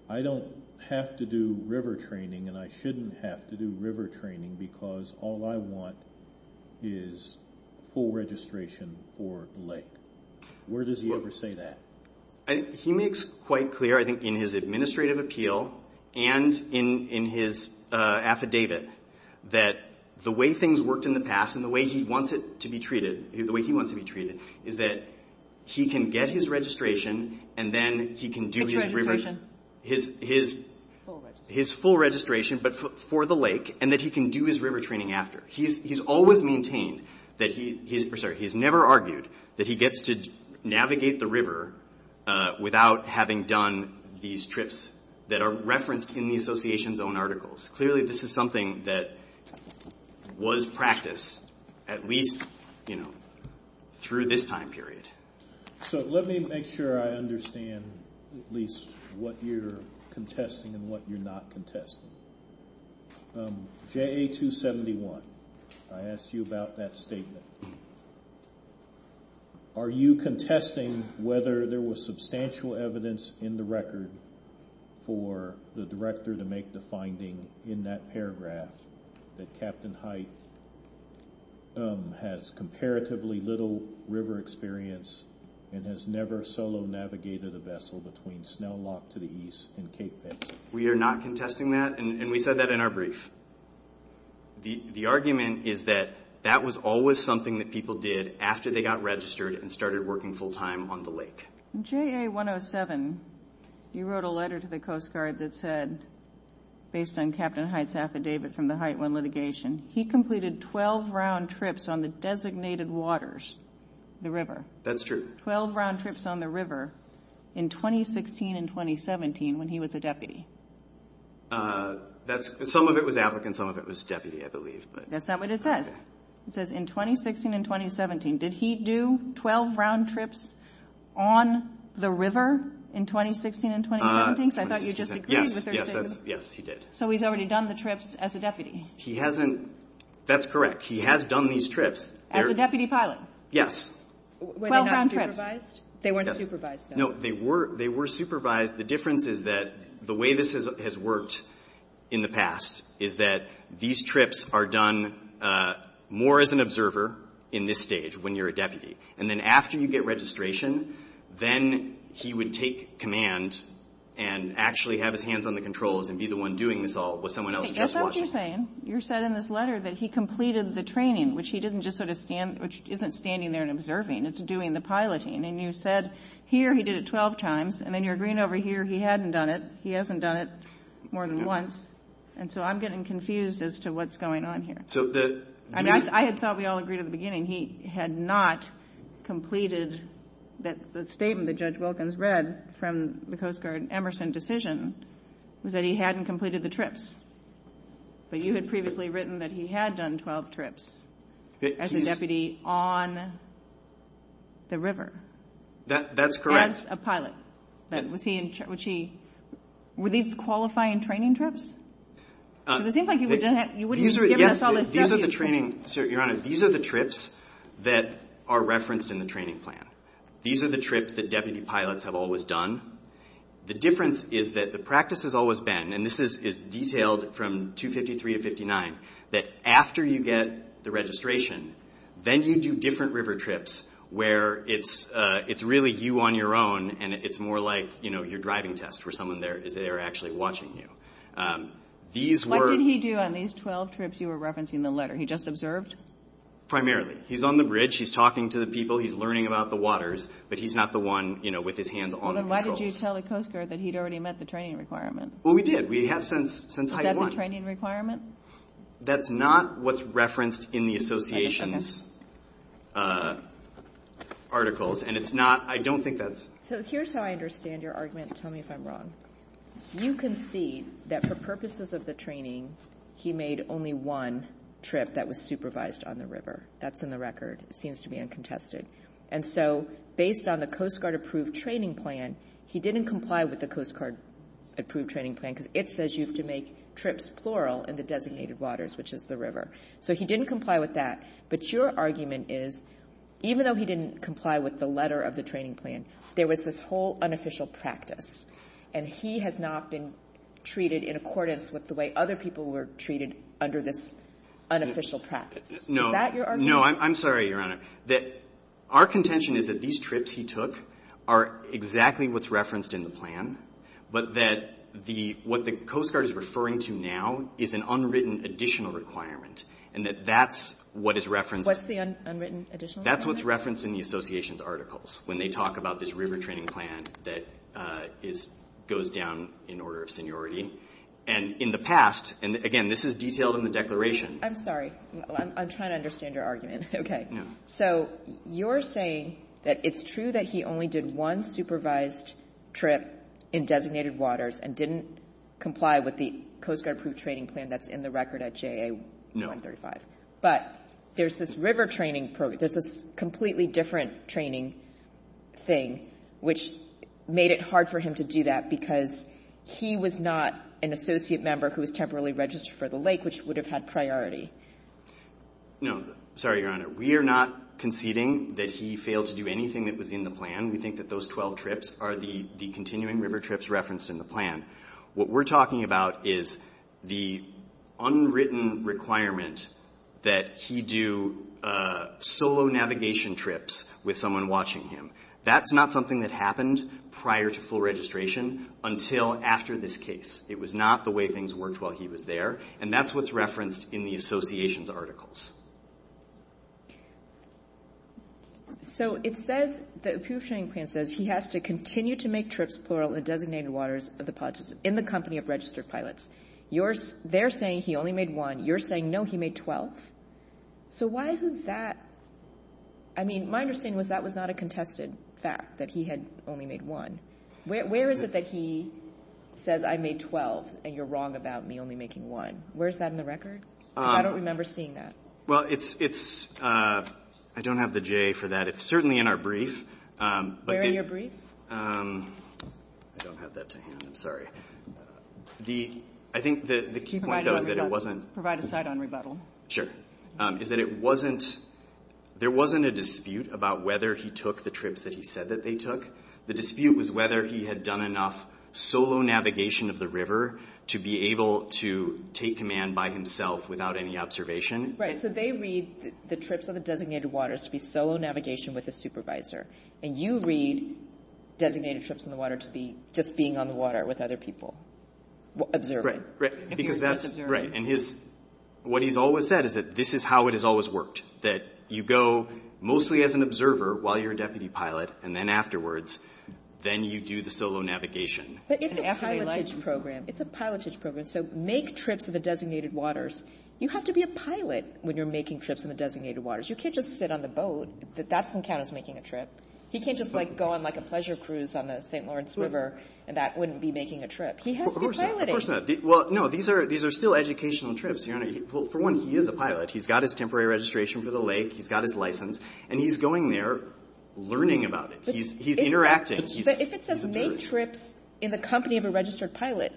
I don't have to do river training, and I shouldn't have to do river training, because all I want is full registration for the lake? Where does he ever say that? He makes quite clear, I think, in his administrative appeal and in his affidavit, that the way things worked in the past and the way he wants it to be treated, the way he wants it to be treated, is that he can get his registration, and then he can do his full registration, but for the lake, and that he can do his river training after. He's never argued that he gets to navigate the river without having done these trips that are referenced in the association's own articles. Clearly, this is something that was practiced at least through this time period. Let me make sure I understand at least what you're contesting and what you're not contesting. JA-271, I asked you about that statement. Are you contesting whether there was substantial evidence in the record for the director to make the finding in that paragraph that Captain Hyte has comparatively little river experience and has never solo navigated a vessel between Snell Lock to the east in Cape Edge? We are not contesting that, and we said that in our brief. The argument is that that was always something that people did after they got registered and started working full-time on the lake. JA-107, you wrote a letter to the Coast Guard that said, based on Captain Hyte's affidavit from the Hyteland litigation, he completed 12 round trips on the designated waters, the river. That's true. 12 round trips on the river in 2016 and 2017 when he was a deputy. Some of it was applicant, some of it was deputy, I believe. That's not what it says. It says in 2016 and 2017. Did he do 12 round trips on the river in 2016 and 2017? Yes, he did. So he's already done the trips as a deputy? He hasn't. That's correct. He has done these trips. As a deputy pilot? Yes. Were they not supervised? They weren't supervised. No, they were supervised. The difference is that the way this has worked in the past is that these trips are done more as an observer in this stage when you're a deputy. And then after you get registration, then he would take command and actually have his hands on the controls and be the one doing this all with someone else just watching. That's what you're saying. You're saying in this letter that he completed the training, which he didn't just sort of stand, which isn't standing there and observing. It's doing the piloting. And you said here he did it 12 times. And then you're agreeing over here he hadn't done it. He hasn't done it more than once. And so I'm getting confused as to what's going on here. I thought we all agreed at the beginning he had not completed the statement that Judge Wilkins read from the Coast Guard Emerson decision that he hadn't completed the trips. But you had previously written that he had done 12 trips as a deputy on the river. That's correct. As a pilot. Were these qualifying training trips? These are the trips that are referenced in the training plan. These are the trips that deputy pilots have always done. The difference is that the practice has always been, and this is detailed from 253 to 259, that after you get the registration, then you do different river trips where it's really you on your own and it's more like your driving test for someone there actually watching you. What did he do on these 12 trips you were referencing in the letter? He just observed? Primarily. He's on the bridge. He's talking to the people. He's learning about the waters. But he's not the one with his hands on the controls. Well, then why did you tell the Coast Guard that he'd already met the training requirement? Well, we did. We have since how you want. Is that the training requirement? That's not what's referenced in the association's articles. Here's how I understand your argument. Tell me if I'm wrong. You can see that for purposes of the training, he made only one trip that was supervised on the river. That's in the record. It seems to be uncontested. And so based on the Coast Guard approved training plan, he didn't comply with the Coast Guard approved training plan because it says you have to make trips plural in the designated waters, which is the river. So he didn't comply with that. But your argument is even though he didn't comply with the letter of the training plan, there was this whole unofficial practice, and he has not been treated in accordance with the way other people were treated under this unofficial practice. Is that your argument? No. I'm sorry, Your Honor. Our contention is that these trips he took are exactly what's referenced in the plan, but that what the Coast Guard is referring to now is an unwritten additional requirement and that that's what is referenced. What's the unwritten additional requirement? That's what's referenced in the association's articles when they talk about this river training plan that goes down in order of seniority. And in the past, and again, this is detailed in the declaration. I'm sorry. I'm trying to understand your argument. Okay. So you're saying that it's true that he only did one supervised trip in designated waters and didn't comply with the Coast Guard approved training plan that's in the record at JA? No. But there's this river training program, there's this completely different training thing which made it hard for him to do that because he was not an associate member who was temporarily registered for the lake, which would have had priority. No. Sorry, Your Honor. We are not conceding that he failed to do anything that was in the plan. We think that those 12 trips are the continuing river trips referenced in the plan. What we're talking about is the unwritten requirement that he do solo navigation trips with someone watching him. That's not something that happened prior to full registration until after this case. It was not the way things worked while he was there, and that's what's referenced in the association's articles. So it says, the approved training plan says, he has to continue to make trips, plural, in designated waters in the company of registered pilots. They're saying he only made one. You're saying, no, he made 12. So why is that? I mean, my understanding was that was not a contested fact that he had only made one. Where is it that he says, I made 12, and you're wrong about me only making one? Where is that in the record? I don't remember seeing that. Well, I don't have the JA for that. It's certainly in our brief. Where in your brief? I don't have that to hand. I think that the key point is that it wasn't- Provide a side on rebuttal. Sure. Is that it wasn't, there wasn't a dispute about whether he took the trips that he said that they took. The dispute was whether he had done enough solo navigation of the river to be able to take command by himself without any observation. Right, so they read the trips of the designated waters to be solo navigation with a supervisor. And you read designated trips in the water to be just being on the water with other people observing. Right, and what he's always said is that this is how it has always worked, that you go mostly as an observer while you're a deputy pilot, and then afterwards, then you do the solo navigation. But it's a pilotage program. It's a pilotage program. So make trips to the designated waters. You have to be a pilot when you're making trips in the designated waters. You can't just sit on the boat. That doesn't count as making a trip. You can't just go on a pleasure cruise on the St. Lawrence River, and that wouldn't be making a trip. He has to be piloting. Of course not. No, these are still educational trips. For one, he is a pilot. He's got his temporary registration for the lake, he's got his license, and he's going there learning about it. He's interacting. But if it says make trips in the company of a registered pilot,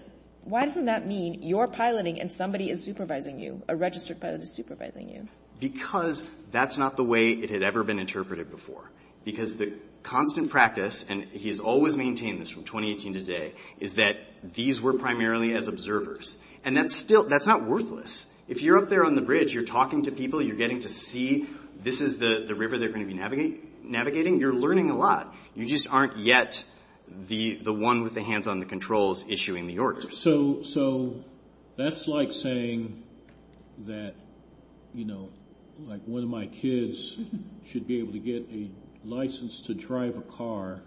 why doesn't that mean you're piloting and somebody is supervising you, a registered pilot is supervising you? Because that's not the way it had ever been interpreted before. Because the constant practice, and he has always maintained this from 2018 to today, is that these were primarily as observers. And that's not worthless. If you're up there on the bridge, you're talking to people, you're getting to see this is the river they're going to be navigating, you're learning a lot. You just aren't yet the one with the hands on the controls issuing the orders. So that's like saying that, you know, like one of my kids should be able to get a license to drive a car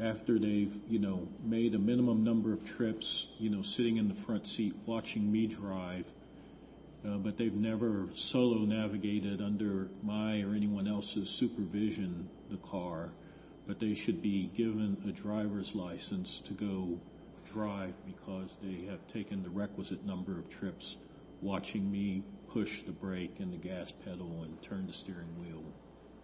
after they've, you know, made a minimum number of trips, you know, sitting in the front seat watching me drive, but they've never solo navigated under my or anyone else's supervision the car, but they should be given a driver's license to go drive because they have taken the requisite number of trips watching me push the brake and the gas pedal and turn the steering wheel,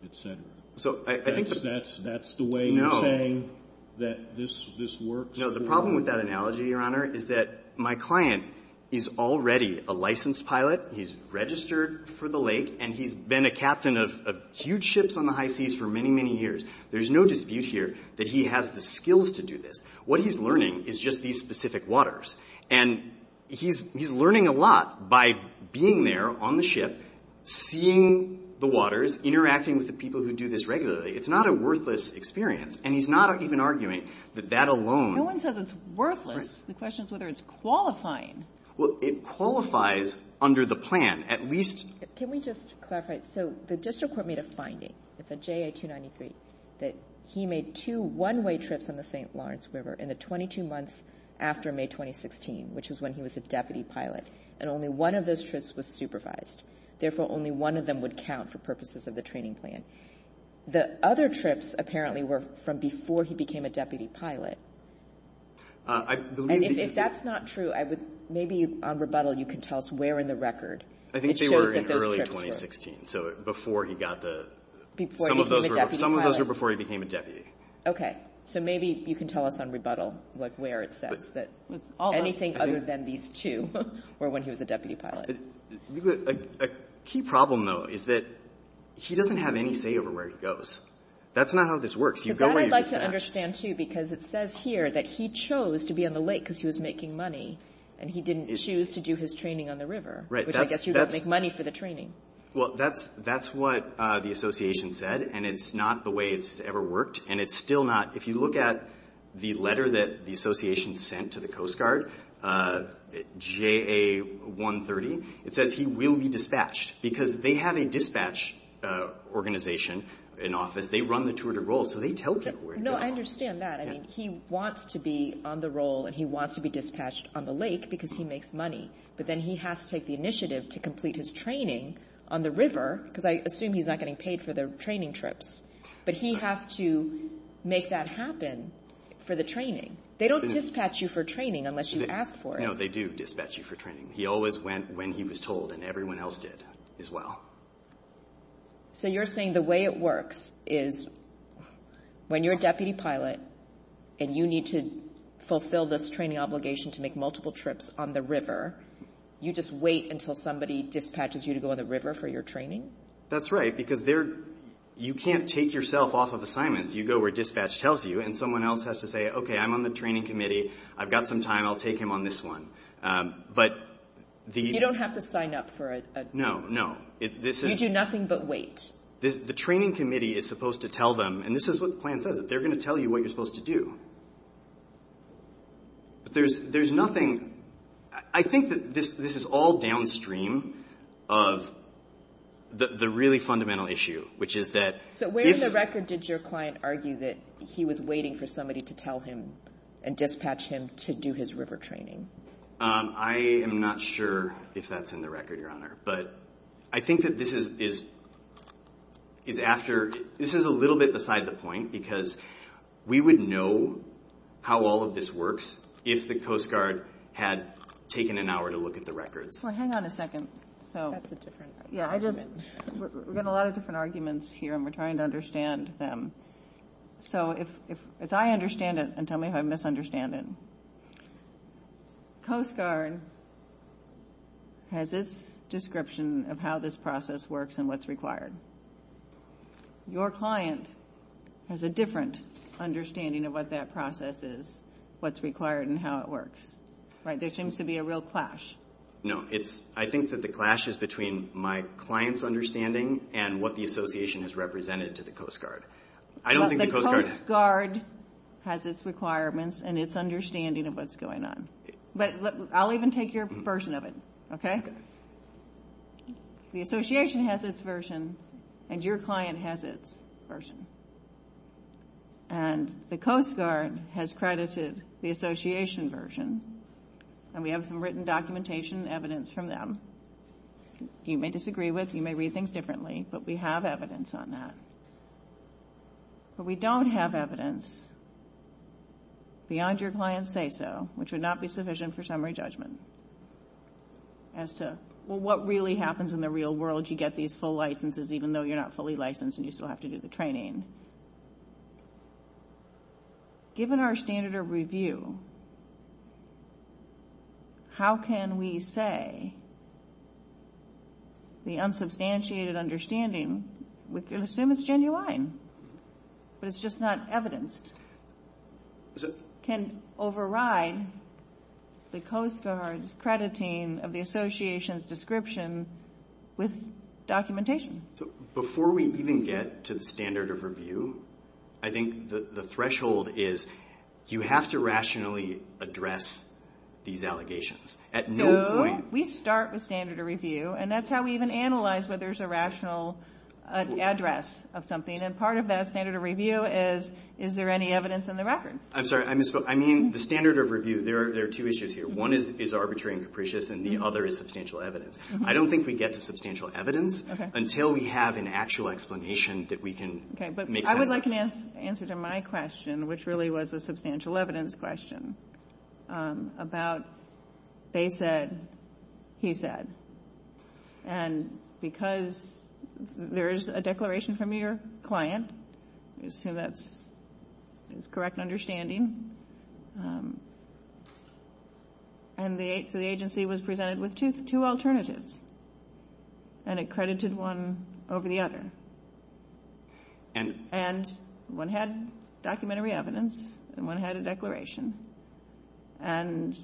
et cetera. That's the way you're saying that this works? You know, the problem with that analogy, Your Honor, is that my client is already a licensed pilot. He's registered for the lake, and he's been a captain of huge ships on the high seas for many, many years. There's no dispute here that he has the skills to do this. What he's learning is just these specific waters, and he's learning a lot by being there on the ship, seeing the waters, interacting with the people who do this regularly. It's not a worthless experience, and he's not even arguing that that alone. No one says it's worthless. The question is whether it's qualifying. Well, it qualifies under the plan at least. Can we just clarify? So the district court made a finding, it's a JA-293, that he made two one-way trips on the St. Lawrence River in the 22 months after May 2016, which is when he was a deputy pilot, and only one of those trips was supervised. Therefore, only one of them would count for purposes of the training plan. The other trips apparently were from before he became a deputy pilot. If that's not true, maybe on rebuttal you can tell us where in the record. I think they were in early 2016, so before he got the... Some of those were before he became a deputy. Okay, so maybe you can tell us on rebuttal where it says that. Anything other than these two were when he was a deputy pilot. A key problem, though, is that he doesn't have any say over where he goes. That's not how this works. That I'd like to understand, too, because it says here that he chose to be on the lake because he was making money, and he didn't choose to do his training on the river, which I guess you don't make money for the training. Well, that's what the association said, and it's not the way it's ever worked, and it's still not... If you look at the letter that the association sent to the Coast Guard, JA-130, it says he will be dispatched because they have a dispatch organization in office. They run the tour de role, so they tell people where he goes. No, I understand that. He wants to be on the role, and he wants to be dispatched on the lake because he makes money, but then he has to take the initiative to complete his training on the river because I assume he's not getting paid for the training trips, but he has to make that happen for the training. They don't dispatch you for training unless you ask for it. No, they do dispatch you for training. He always went when he was told, and everyone else did as well. So you're saying the way it works is when you're a deputy pilot and you need to fulfill this training obligation to make multiple trips on the river, you just wait until somebody dispatches you to go on the river for your training? That's right, because you can't take yourself off of assignments. You go where dispatch tells you, and someone else has to say, okay, I'm on the training committee, I've got some time, I'll take him on this one. You don't have to sign up for it. No, no. You do nothing but wait. The training committee is supposed to tell them, and this is what the plan says, they're going to tell you what you're supposed to do. There's nothing – I think that this is all downstream of the really fundamental issue, which is that – So where in the record did your client argue that he was waiting for somebody to tell him and dispatch him to do his river training? I am not sure if that's in the record, Your Honor. I think that this is a little bit beside the point, because we would know how all of this works if the Coast Guard had taken an hour to look at the record. Hang on a second. That's a different argument. We've got a lot of different arguments here, and we're trying to understand them. So if I understand it, and tell me if I misunderstand it, Coast Guard has this description of how this process works and what's required. Your client has a different understanding of what that process is, what's required, and how it works. There seems to be a real clash. No. I think that the clash is between my client's understanding and what the Association has represented to the Coast Guard. The Coast Guard has its requirements and its understanding of what's going on. But I'll even take your version of it, okay? The Association has its version, and your client has its version. And the Coast Guard has credited the Association version, and we have some written documentation and evidence from them. You may disagree with, you may read things differently, but we have evidence on that. But we don't have evidence beyond your client's say-so, which would not be sufficient for summary judgment as to, well, what really happens in the real world if you get these full licenses, even though you're not fully licensed and you still have to do the training? Given our standard of review, how can we say the unsubstantiated understanding, we can assume it's genuine, but it's just not evidenced, can override the Coast Guard's crediting of the Association's description with documentation? Before we even get to the standard of review, I think the threshold is you have to rationally address these allegations at no point. So we start with standard of review, and that's how we even analyze whether there's a rational address of something. And part of that standard of review is, is there any evidence in the record? I'm sorry, I misspoke. I mean, the standard of review, there are two issues here. One is arbitrary and capricious, and the other is substantial evidence. I don't think we get to substantial evidence until we have an actual explanation that we can make sense of. Okay, but I would like an answer to my question, which really was a substantial evidence question about they said, he said. And because there is a declaration from your client, so that's correct understanding, and the agency was presented with two alternatives, and it credited one over the other. And one had documentary evidence, and one had a declaration. And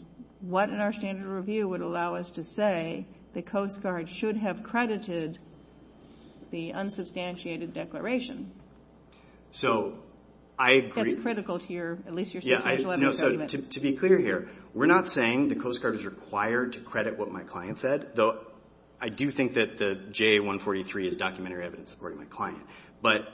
what in our standard of review would allow us to say the Coast Guard should have credited the unsubstantiated declaration? So I agree. That's critical here. Yeah, so to be clear here, we're not saying the Coast Guard is required to credit what my client said, though I do think that the JA-143 is documentary evidence according to my client. But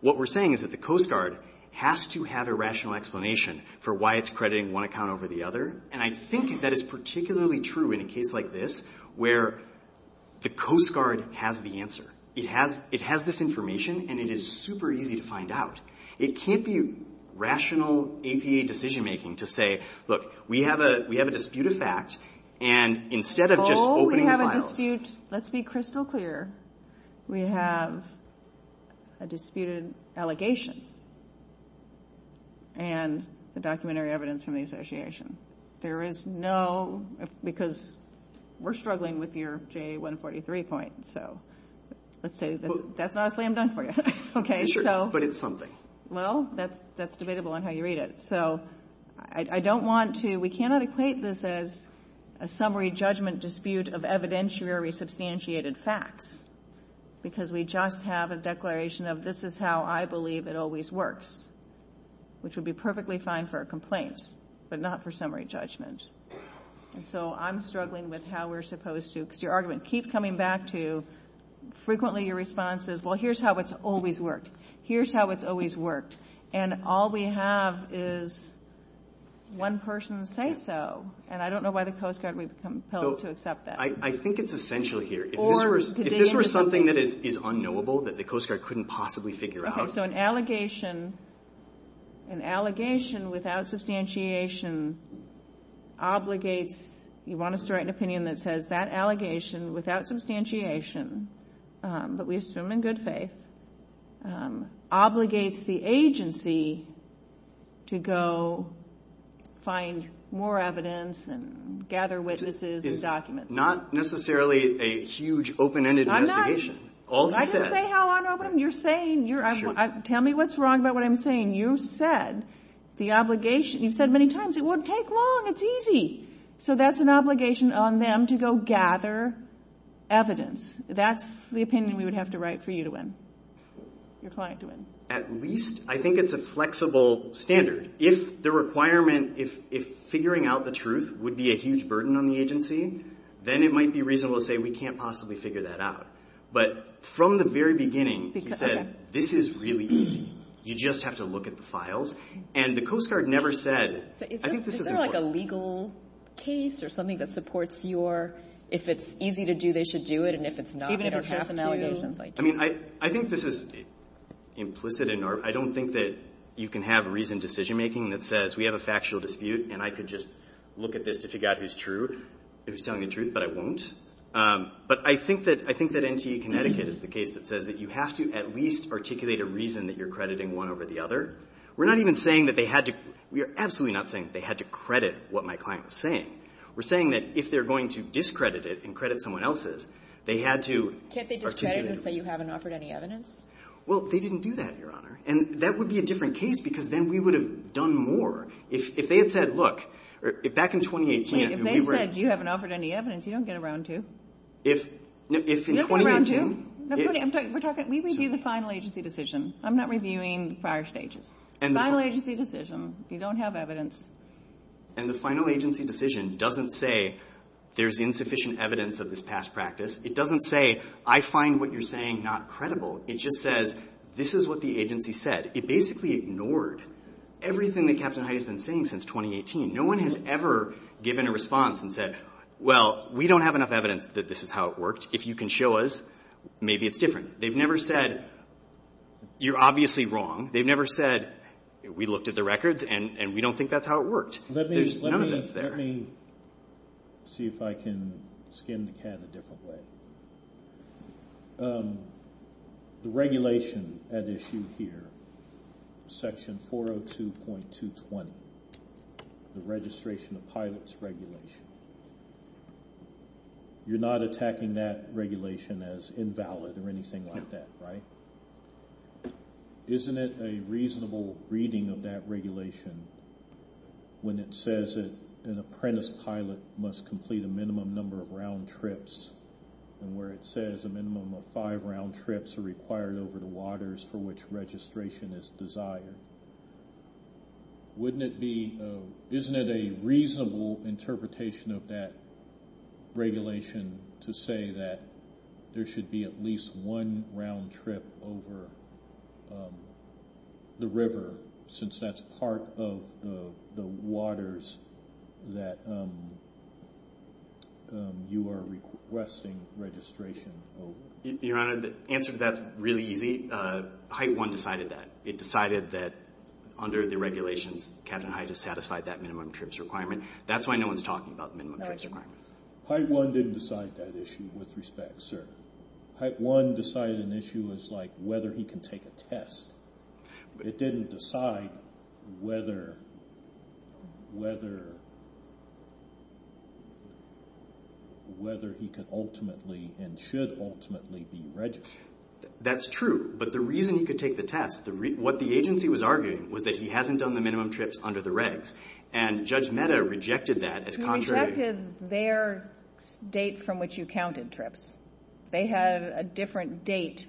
what we're saying is that the Coast Guard has to have a rational explanation for why it's crediting one account over the other, and I think that is particularly true in a case like this where the Coast Guard has the answer. It has this information, and it is super easy to find out. It can't be rational APA decision-making to say, look, we have a dispute of fact, and instead of just opening a file... Oh, we have a dispute. Let's be crystal clear. We have a disputed allegation and the documentary evidence from the association. There is no...because we're struggling with your JA-143 point, so let's say... That's not a claim done for you. Okay, so... But it's something. Well, that's debatable on how you read it. So I don't want to...we cannot equate this as a summary judgment dispute of evidentiary substantiated facts because we just have a declaration of this is how I believe it always works, which would be perfectly fine for a complaint, but not for summary judgment. And so I'm struggling with how we're supposed to...because your argument keeps coming back to... frequently your response is, well, here's how it's always worked. Here's how it's always worked. And all we have is one person say so, and I don't know why the Coast Guard would be compelled to accept that. I think it's essential here. If this were something that is unknowable that the Coast Guard couldn't possibly figure out... So an allegation without substantiation obligates... you want us to write an opinion that says that allegation without substantiation, but we assume in good faith, obligates the agency to go find more evidence and gather witnesses and documents. It's not necessarily a huge open-ended investigation. I didn't say how unopen...you're saying...tell me what's wrong about what I'm saying. You said the obligation...you said many times, it won't take long, it's easy. So that's an obligation on them to go gather evidence. That's the opinion we would have to write for you to win, your client to win. At least...I think it's a flexible standard. If the requirement...if figuring out the truth would be a huge burden on the agency, then it might be reasonable to say we can't possibly figure that out. But from the very beginning, you said this is really easy. You just have to look at the files. And the Coast Guard never said... Is there like a legal case or something that supports your... if it's easy to do, they should do it, and if it's not, they don't have to. I think this is implicit in our... I don't think that you can have reasoned decision-making that says we have a factual dispute and I could just look at this to figure out who's true. Who's telling the truth, but I won't. But I think that NTA Connecticut is the case that says that you have to at least articulate a reason that you're crediting one over the other. We're not even saying that they had to... we're absolutely not saying that they had to credit what my client was saying. We're saying that if they're going to discredit it and credit someone else's, they had to... Can't they discredit it and say you haven't offered any evidence? Well, they didn't do that, Your Honor. And that would be a different case because then we would have done more. If they had said, look... Back in 2018, if we were... If they said you haven't offered any evidence, you don't get a round two. If in 2018... You don't get a round two? I'm sorry, we're talking... We review the final agency decision. I'm not reviewing prior stages. Final agency decision. You don't have evidence. And the final agency decision doesn't say there's insufficient evidence of this past practice. It doesn't say I find what you're saying not credible. It just says this is what the agency said. It basically ignored everything that Captain Heidi has been saying since 2018. No one has ever given a response and said, well, we don't have enough evidence that this is how it works. If you can show us, maybe it's different. They've never said, you're obviously wrong. They've never said, we looked at the records and we don't think that's how it works. Let me see if I can skim the cat a different way. The regulation at issue here, section 402.220, the registration of pilots regulation. You're not attacking that regulation as invalid or anything like that, right? Isn't it a reasonable reading of that regulation when it says that an apprentice pilot must complete a minimum number of round trips and where it says a minimum of five round trips are required over the waters for which registration is desired? Isn't it a reasonable interpretation of that regulation to say that there should be at least one round trip over the river since that's part of the waters that you are requesting registration over? Your Honor, the answer to that is really easy. HITE-1 decided that. It decided that under the regulations, Captain Heidi satisfied that minimum trips requirement. That's why no one's talking about minimum trips requirement. HITE-1 didn't decide that issue with respect, sir. HITE-1 decided an issue was like whether he can take a test. It didn't decide whether he could ultimately and should ultimately be registered. That's true, but the reason he could take the test, what the agency was arguing was that he hasn't done the minimum trips under the regs, and Judge Mehta rejected that as contrary. He rejected their date from which you counted trips. They had a different date.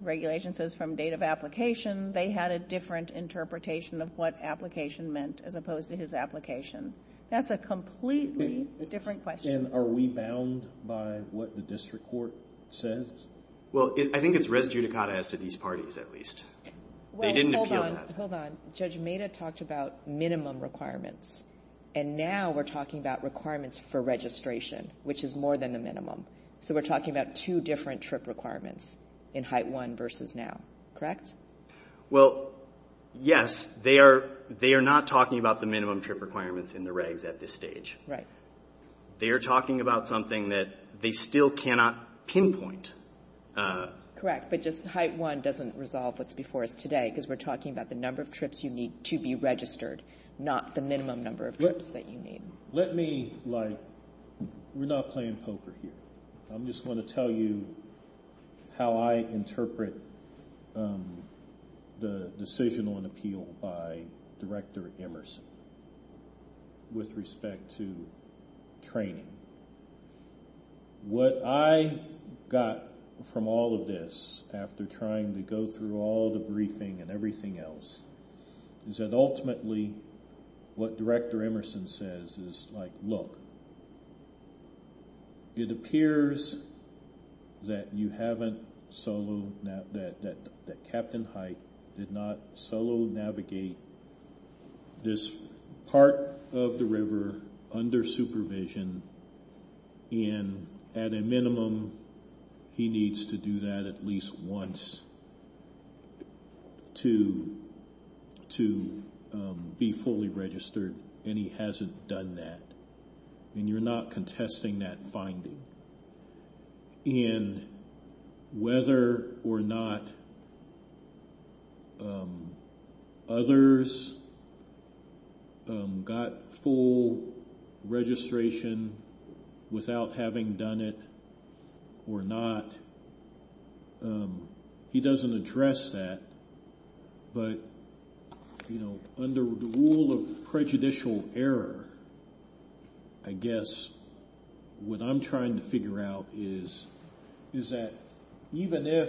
Regulation says from date of application. They had a different interpretation of what application meant as opposed to his application. That's a completely different question. And are we bound by what the district court says? Well, I think it's res judicata as to these parties at least. They didn't appeal that. Well, hold on. Judge Mehta talked about minimum requirements, and now we're talking about requirements for registration, which is more than the minimum. So we're talking about two different trip requirements in HITE-1 versus now, correct? Well, yes. They are not talking about the minimum trip requirements in the regs at this stage. Right. They are talking about something that they still cannot pinpoint. Correct, but just HITE-1 doesn't resolve what's before us today because we're talking about the number of trips you need to be registered, not the minimum number of trips that you need. Let me, like, we're not playing poker here. I'm just going to tell you how I interpret the decision on appeal by Director Emerson with respect to training. What I got from all of this, after trying to go through all the briefing and everything else, is that ultimately what Director Emerson says is, like, look, it appears that you haven't solo, that Captain Hite did not solo navigate this part of the river under supervision, and at a minimum he needs to do that at least once to be fully registered, and he hasn't done that. And you're not contesting that finding. And whether or not others got full registration without having done it or not, he doesn't address that. But, you know, under the rule of prejudicial error, I guess what I'm trying to figure out is that even if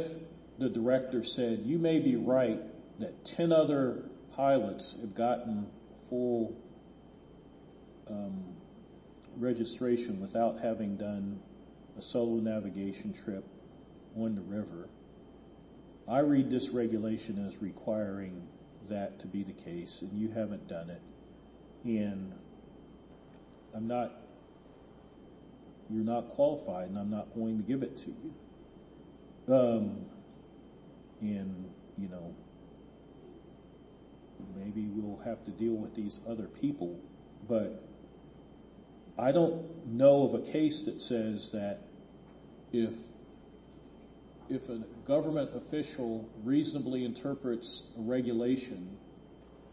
the director said, you may be right that 10 other pilots have gotten full registration without having done a solo navigation trip on the river, I read this regulation as requiring that to be the case, and you haven't done it. And I'm not, you're not qualified, and I'm not going to give it to you. And, you know, maybe we'll have to deal with these other people. But I don't know of a case that says that if a government official reasonably interprets a regulation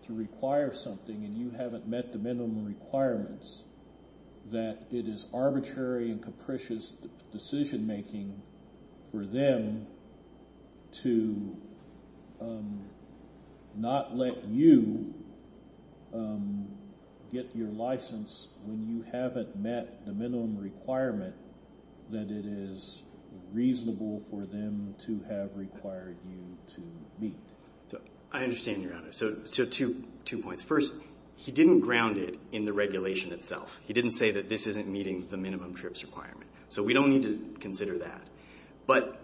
to require something and you haven't met the minimum requirements, that it is arbitrary and capricious decision-making for them to not let you get your license when you haven't met the minimum requirement that it is reasonable for them to have required you to meet. I understand, Your Honor, so two points. First, he didn't ground it in the regulation itself. He didn't say that this isn't meeting the minimum trips requirement. So we don't need to consider that. But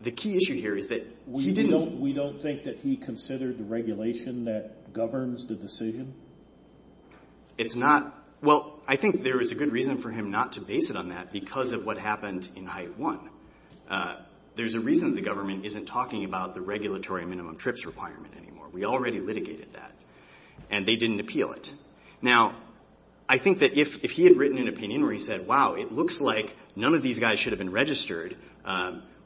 the key issue here is that he didn't... We don't think that he considered the regulation that governs the decision? It's not, well, I think there is a good reason for him not to base it on that because of what happened in Hive 1. There's a reason the government isn't talking about the regulatory minimum trips requirement anymore. We already litigated that. And they didn't appeal it. Now, I think that if he had written an opinion where he said, wow, it looks like none of these guys should have been registered,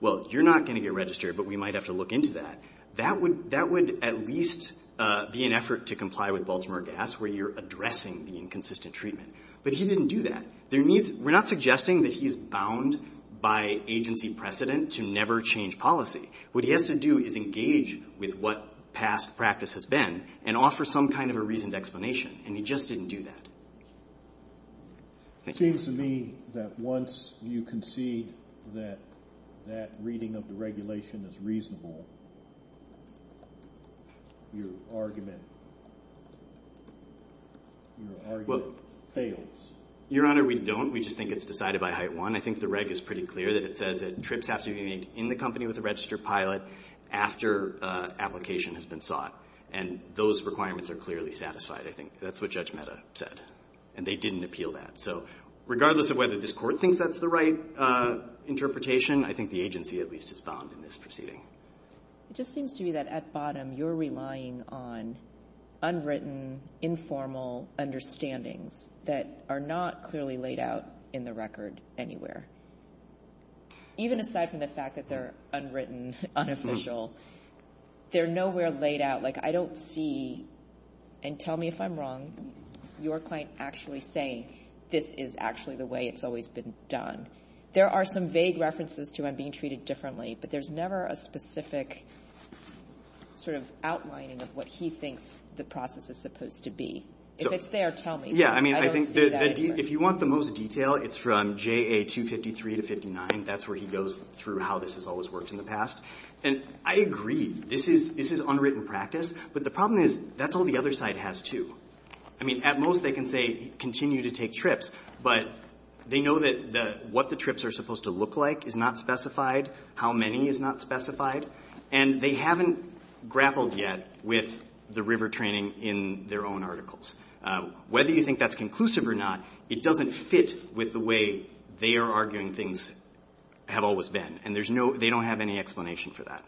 well, you're not going to get registered, but we might have to look into that. That would at least be an effort to comply with Baltimore Gas where you're addressing the inconsistent treatment. But he didn't do that. We're not suggesting that he's bound by agency precedent to never change policy. What he has to do is engage with what past practice has been and offer some kind of a reasoned explanation, and he just didn't do that. It seems to me that once you concede that that reading of the regulation is reasonable, your argument fails. Your Honor, we don't. We just think it's decided by Hive 1. I think the reg is pretty clear that it says that trips have to be made in the company with a registered pilot after application has been sought. And those requirements are clearly satisfied. I think that's what Judge Mehta said. And they didn't appeal that. So regardless of whether this Court thinks that's the right interpretation, I think the agency at least is bound in this proceeding. It just seems to me that at bottom you're relying on unwritten, informal understandings that are not clearly laid out in the record anywhere. Even aside from the fact that they're unwritten, unofficial, they're nowhere laid out. Like I don't see, and tell me if I'm wrong, your client actually saying, this is actually the way it's always been done. There are some vague references to him being treated differently, but there's never a specific sort of outlining of what he thinks the process is supposed to be. If it's there, tell me. Yeah, I mean, I think if you want the most detail, it's from JA 253-59. That's where he goes through how this has always worked in the past. And I agree. This is unwritten practice. But the problem is that's all the other side has too. I mean, at most they can say continue to take trips, but they know that what the trips are supposed to look like is not specified, how many is not specified, and they haven't grappled yet with the river training in their own articles. Whether you think that's conclusive or not, it doesn't fit with the way they are arguing things have always been, and they don't have any explanation for that.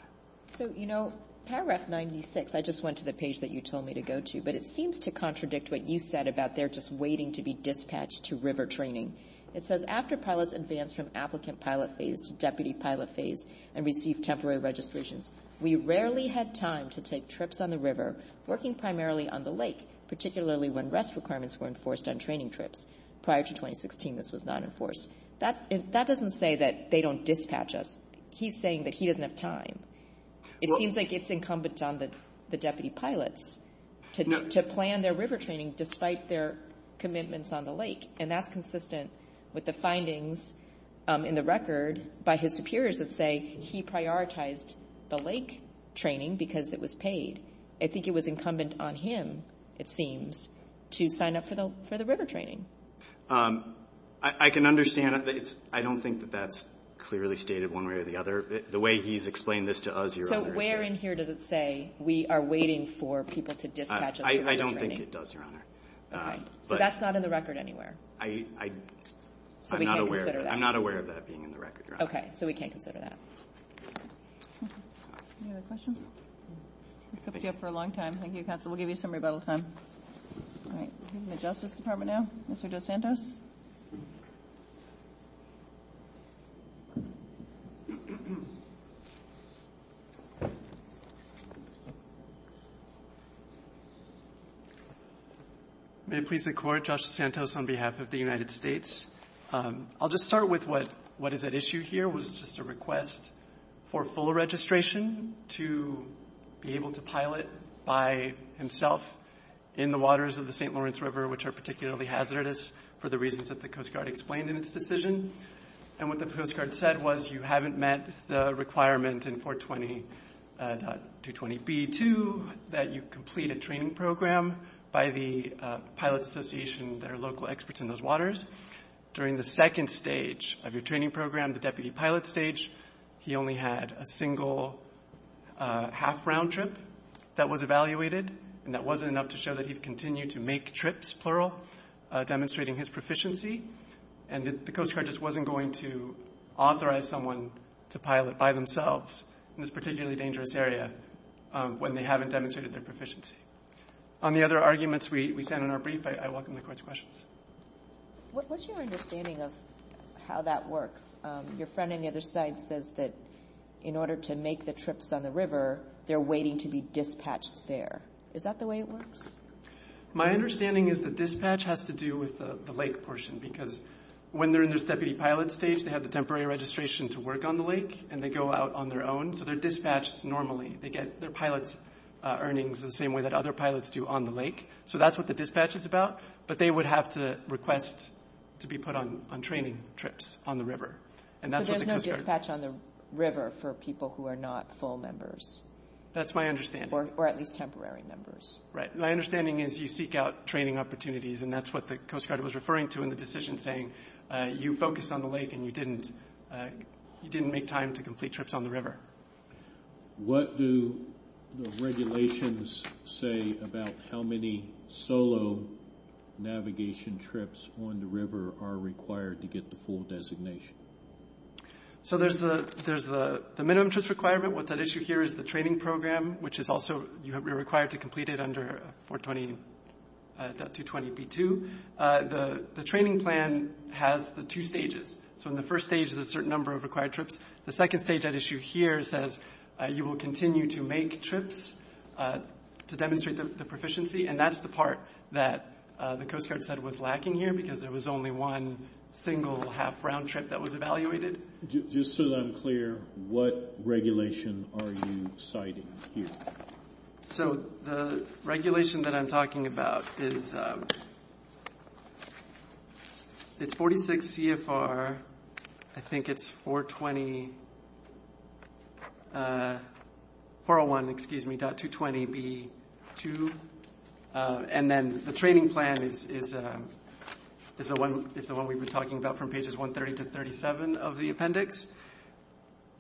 So, you know, paragraph 96, I just went to the page that you told me to go to, but it seems to contradict what you said about they're just waiting to be dispatched to river training. It says, after pilots advance from applicant pilot phase to deputy pilot phase and receive temporary registration, we rarely have time to take trips on the river working primarily on the lake, particularly when rest requirements were enforced on training trips. Prior to 2016, this was not enforced. That doesn't say that they don't dispatch us. He's saying that he doesn't have time. It seems like it's incumbent on the deputy pilots to plan their river training despite their commitments on the lake, and that's consistent with the findings in the record by his superiors that say he prioritized the lake training because it was paid. I think it was incumbent on him, it seems, to sign up for the river training. I can understand that. I don't think that that's clearly stated one way or the other. The way he's explained this to us, Your Honor. So where in here does it say we are waiting for people to dispatch us? I don't think it does, Your Honor. So that's not in the record anywhere? I'm not aware of that being in the record, Your Honor. Okay, so we can't consider that. Any other questions? Kept you up for a long time. Thank you, Counselor. We'll give you some rebuttal time. All right, the Justice Department now. Mr. DeSantis. May it please the Court, Josh Santos on behalf of the United States. I'll just start with what is at issue here, which is a request for full registration to be able to pilot by himself in the waters of the St. Lawrence River, which are particularly hazardous for the reasons that the Coast Guard explained in its decision. And what the Coast Guard said was you haven't met the requirement in 420.220B2 that you complete a training program by the pilot association, their local experts in those waters. During the second stage of your training program, the deputy pilot stage, he only had a single half round trip that was evaluated, and that wasn't enough to show that he continued to make trips, plural, demonstrating his proficiency. And the Coast Guard just wasn't going to authorize someone to pilot by themselves in this particularly dangerous area when they haven't demonstrated their proficiency. On the other arguments we found in our brief, I welcome the Court's questions. What's your understanding of how that works? Your friend on the other side says that in order to make the trips on the river, they're waiting to be dispatched there. Is that the way it works? My understanding is the dispatch has to do with the lake portion, because when they're in the deputy pilot stage, they have the temporary registration to work on the lake, and they go out on their own, so they're dispatched normally. They get their pilot earnings the same way that other pilots do on the lake. So that's what the dispatch is about. But they would have to request to be put on training trips on the river. But there's no dispatch on the river for people who are not full members. That's my understanding. Or at least temporary members. Right. My understanding is you seek out training opportunities, and that's what the Coast Guard was referring to in the decision saying you focused on the lake and you didn't make time to complete trips on the river. What do the regulations say about how many solo navigation trips on the river are required to get the full designation? So there's the minimum trips requirement. What's at issue here is the training program, which is also you're required to complete it under 420.220b2. The training plan has the two stages. So in the first stage, there's a certain number of required trips. The second stage at issue here says you will continue to make trips to demonstrate the proficiency, and that's the part that the Coast Guard said was lacking here because there was only one single half round trip that was evaluated. Just so that I'm clear, what regulation are you citing here? So the regulation that I'm talking about is 46 CFR, I think it's 420.220b2, and then the training plan is the one we've been talking about from pages 130 to 137 of the appendix.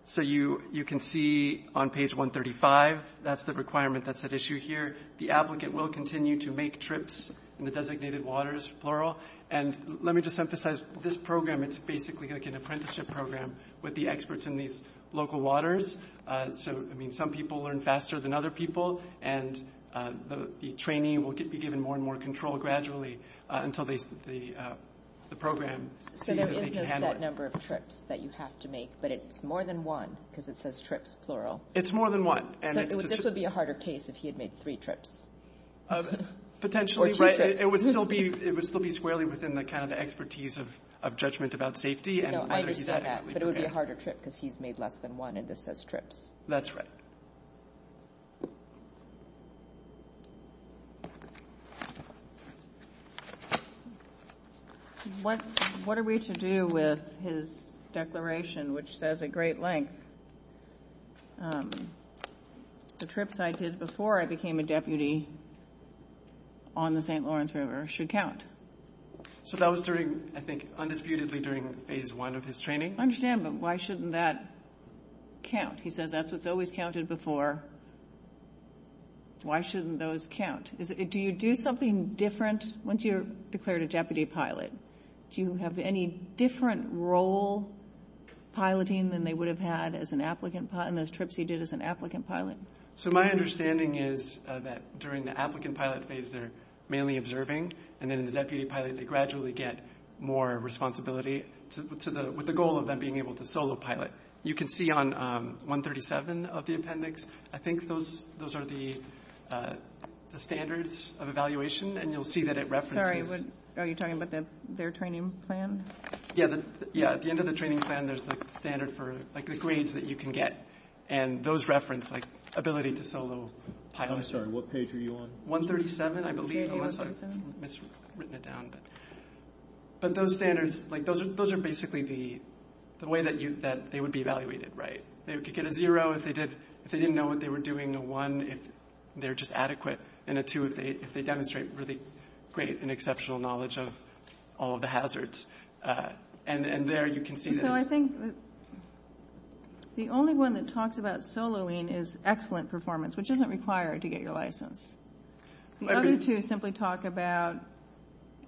So you can see on page 135, that's the requirement that's at issue here. The applicant will continue to make trips in the designated waters, plural. And let me just emphasize, this program, it's basically like an apprenticeship program with the experts in these local waters. So, I mean, some people learn faster than other people, and the training will be given more and more control gradually until the program sees that they can handle it. So it's not that number of trips that you have to make, but it's more than one because it says trips, plural. It's more than one. This would be a harder case if he had made three trips. Potentially, right? It would still be squarely within the kind of expertise of judgment about safety. No, I didn't say that, but it would be a harder trip because he's made less than one and this says trips. That's right. What are we to do with his declaration, which says at great length, the trips I did before I became a deputy on the St. Lawrence River should count? So that was during, I think, undisputedly during phase one of his training. I understand, but why shouldn't that count? He said that's what's always counted before. Why shouldn't those count? Do you do something different once you're declared a deputy pilot? Do you have any different role piloting than they would have had as an applicant and those trips he did as an applicant pilot? So my understanding is that during the applicant pilot phase, they're mainly observing, and then the deputy pilot, they gradually get more responsibility with the goal of them being able to solo pilot. You can see on 137 of the appendix, I think those are the standards of evaluation, and you'll see that it references – Sorry, are you talking about their training plan? Yeah, at the end of the training plan, there's a standard for the grades that you can get, and those reference ability to solo pilot. I'm sorry, what page are you on? 137, I believe. I must have written it down. But those standards, those are basically the way that they would be evaluated, right? They would get a zero if they didn't know what they were doing, a one if they're just adequate, and a two if they demonstrate really great and exceptional knowledge of all the hazards. And there you can see that – So I think the only one that talks about soloing is excellent performance, which isn't required to get your license. The other two simply talk about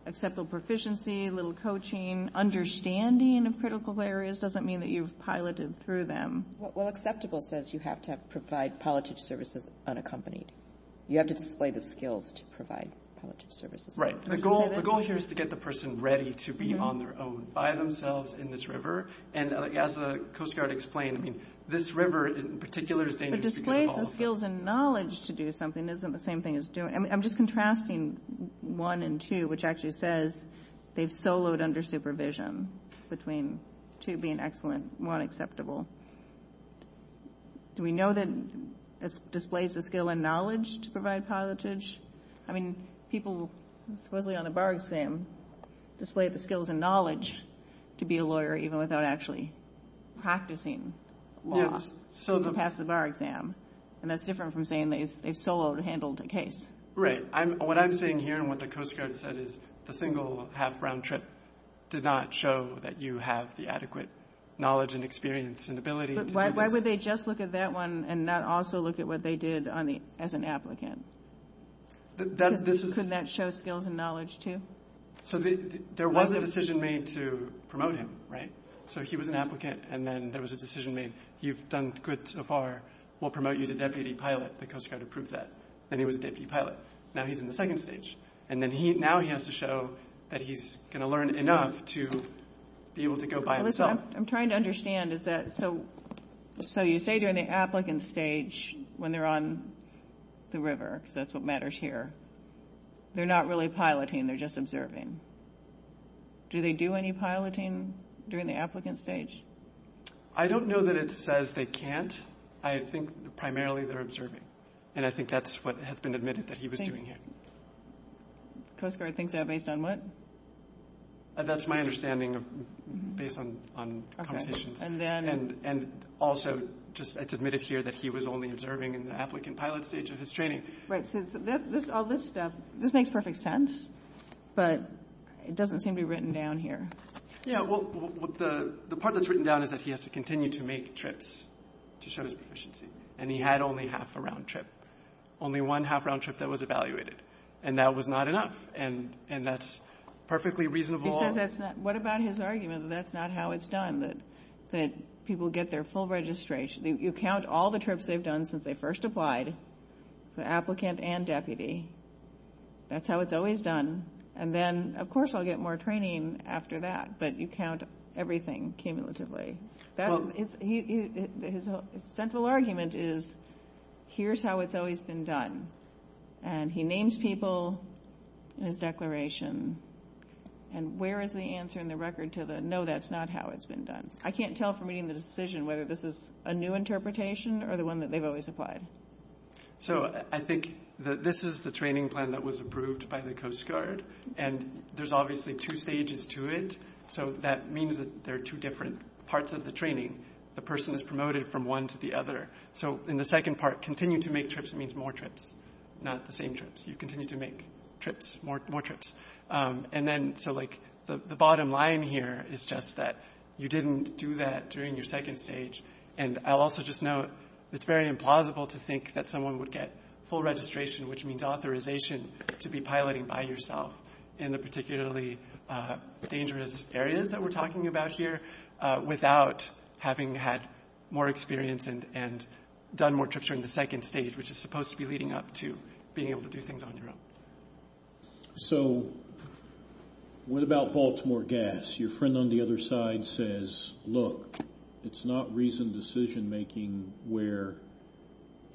acceptable proficiency, little coaching, understanding of critical areas doesn't mean that you've piloted through them. Well, acceptable says you have to provide palliative services unaccompanied. You have to display the skills to provide palliative services. Right. The goal here is to get the person ready to be on their own by themselves in this river, and as the Coast Guard explained, this river in particular is dangerous. Displaying the skills and knowledge to do something isn't the same thing as doing – I'm just contrasting one and two, which actually says they've soloed under supervision, between two being excellent and one acceptable. Do we know that it displays the skill and knowledge to provide palliatives? I mean, people supposedly on a bar exam display the skills and knowledge to be a lawyer even without actually practicing law to pass the bar exam, and that's different from saying they've soloed and handled a case. Right. What I'm saying here and what the Coast Guard said is the single half-round trip did not show that you have the adequate knowledge and experience and ability. Why would they just look at that one and not also look at what they did as an applicant? Couldn't that show skills and knowledge too? So there was a decision made to promote him, right? So he was an applicant and then there was a decision made, you've done good so far, we'll promote you to deputy pilot, the Coast Guard approved that, and he was deputy pilot. Now he's in the second stage, and now he has to show that he's going to learn enough to be able to go by himself. What I'm trying to understand is that, so you say during the applicant stage, when they're on the river, because that's what matters here, they're not really piloting, they're just observing. Do they do any piloting during the applicant stage? I don't know that it says they can't. I think primarily they're observing, and I think that's what has been admitted that he was doing it. The Coast Guard thinks that based on what? That's my understanding based on competition. And then? And also, it's admitted here that he was only observing in the applicant pilot stage of his training. Right, so all this stuff, this makes perfect sense, but it doesn't seem to be written down here. Yeah, well, the part that's written down is that he has to continue to make trips to show his proficiency, and he had only half a round trip, only one half-round trip that was evaluated, and that was not enough, and that's perfectly reasonable. What about his argument that that's not how it's done, that people get their full registration? You count all the trips they've done since they first applied, the applicant and deputy. That's how it's always done. And then, of course, I'll get more training after that, but you count everything cumulatively. His central argument is, here's how it's always been done, and he names people in his declaration, and where is the answer in the record to the, no, that's not how it's been done? I can't tell from reading the decision whether this is a new interpretation or the one that they've always applied. So I think that this is the training plan that was approved by the Coast Guard, and there's obviously two stages to it, so that means that there are two different parts of the training. The person is promoted from one to the other. So in the second part, continue to make trips means more trips, not the same trips. You continue to make trips, more trips. So the bottom line here is just that you didn't do that during your second stage, and I'll also just note it's very implausible to think that someone would get full registration, which means authorization to be piloting by yourself in the particularly dangerous areas that we're talking about here without having had more experience and done more trips during the second stage, which is supposed to be leading up to being able to do things on your own. So what about Baltimore Gas? Your friend on the other side says, look, it's not reasoned decision making where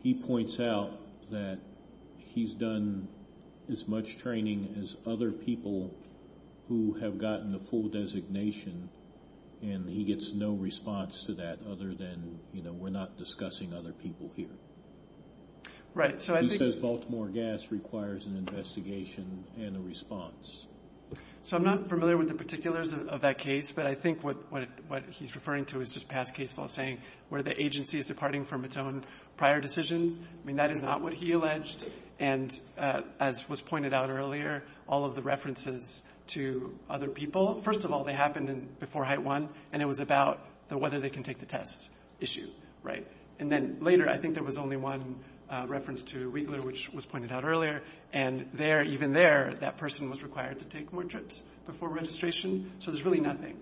he points out that he's done as much training as other people who have gotten a full designation, and he gets no response to that other than, you know, we're not discussing other people here. He says Baltimore Gas requires an investigation and a response. So I'm not familiar with the particulars of that case, but I think what he's referring to is just Pat Casewell saying where the agency is departing from its own prior decisions. I mean, that is not what he alleged, and as was pointed out earlier, all of the references to other people, first of all, they happened before height one, and it was about whether they can take the test issue, right? And then later, I think there was only one reference to Wheatley, which was pointed out earlier, and there, even there, that person was required to take more trips before registration. So there's really nothing,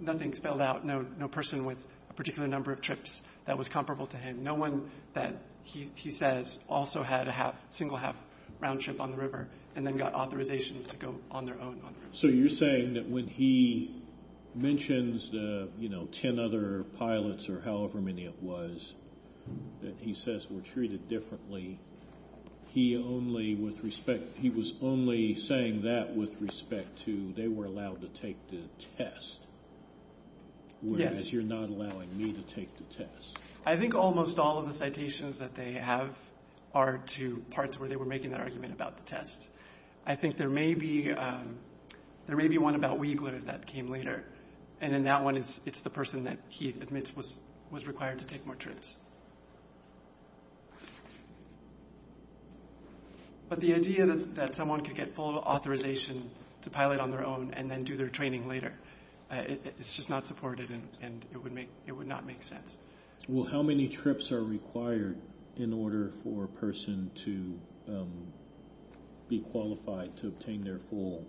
nothing spelled out, no person with a particular number of trips that was comparable to him. No one that he says also had a single half round trip on the river and then got authorization to go on their own. So you're saying that when he mentions the, you know, 10 other pilots or however many it was that he says were treated differently, he only, with respect, he was only saying that with respect to they were allowed to take the test. Yes. Whereas you're not allowing me to take the test. I think almost all of the citations that they have are to parts where they were making an argument about the test. I think there may be, there may be one about Wheatley that came later, and in that one it's the person that he admits was required to take more trips. But the idea that someone could get full authorization to pilot on their own and then do their training later, it's just not supported and it would make, it would not make sense. Well, how many trips are required in order for a person to be qualified to obtain their full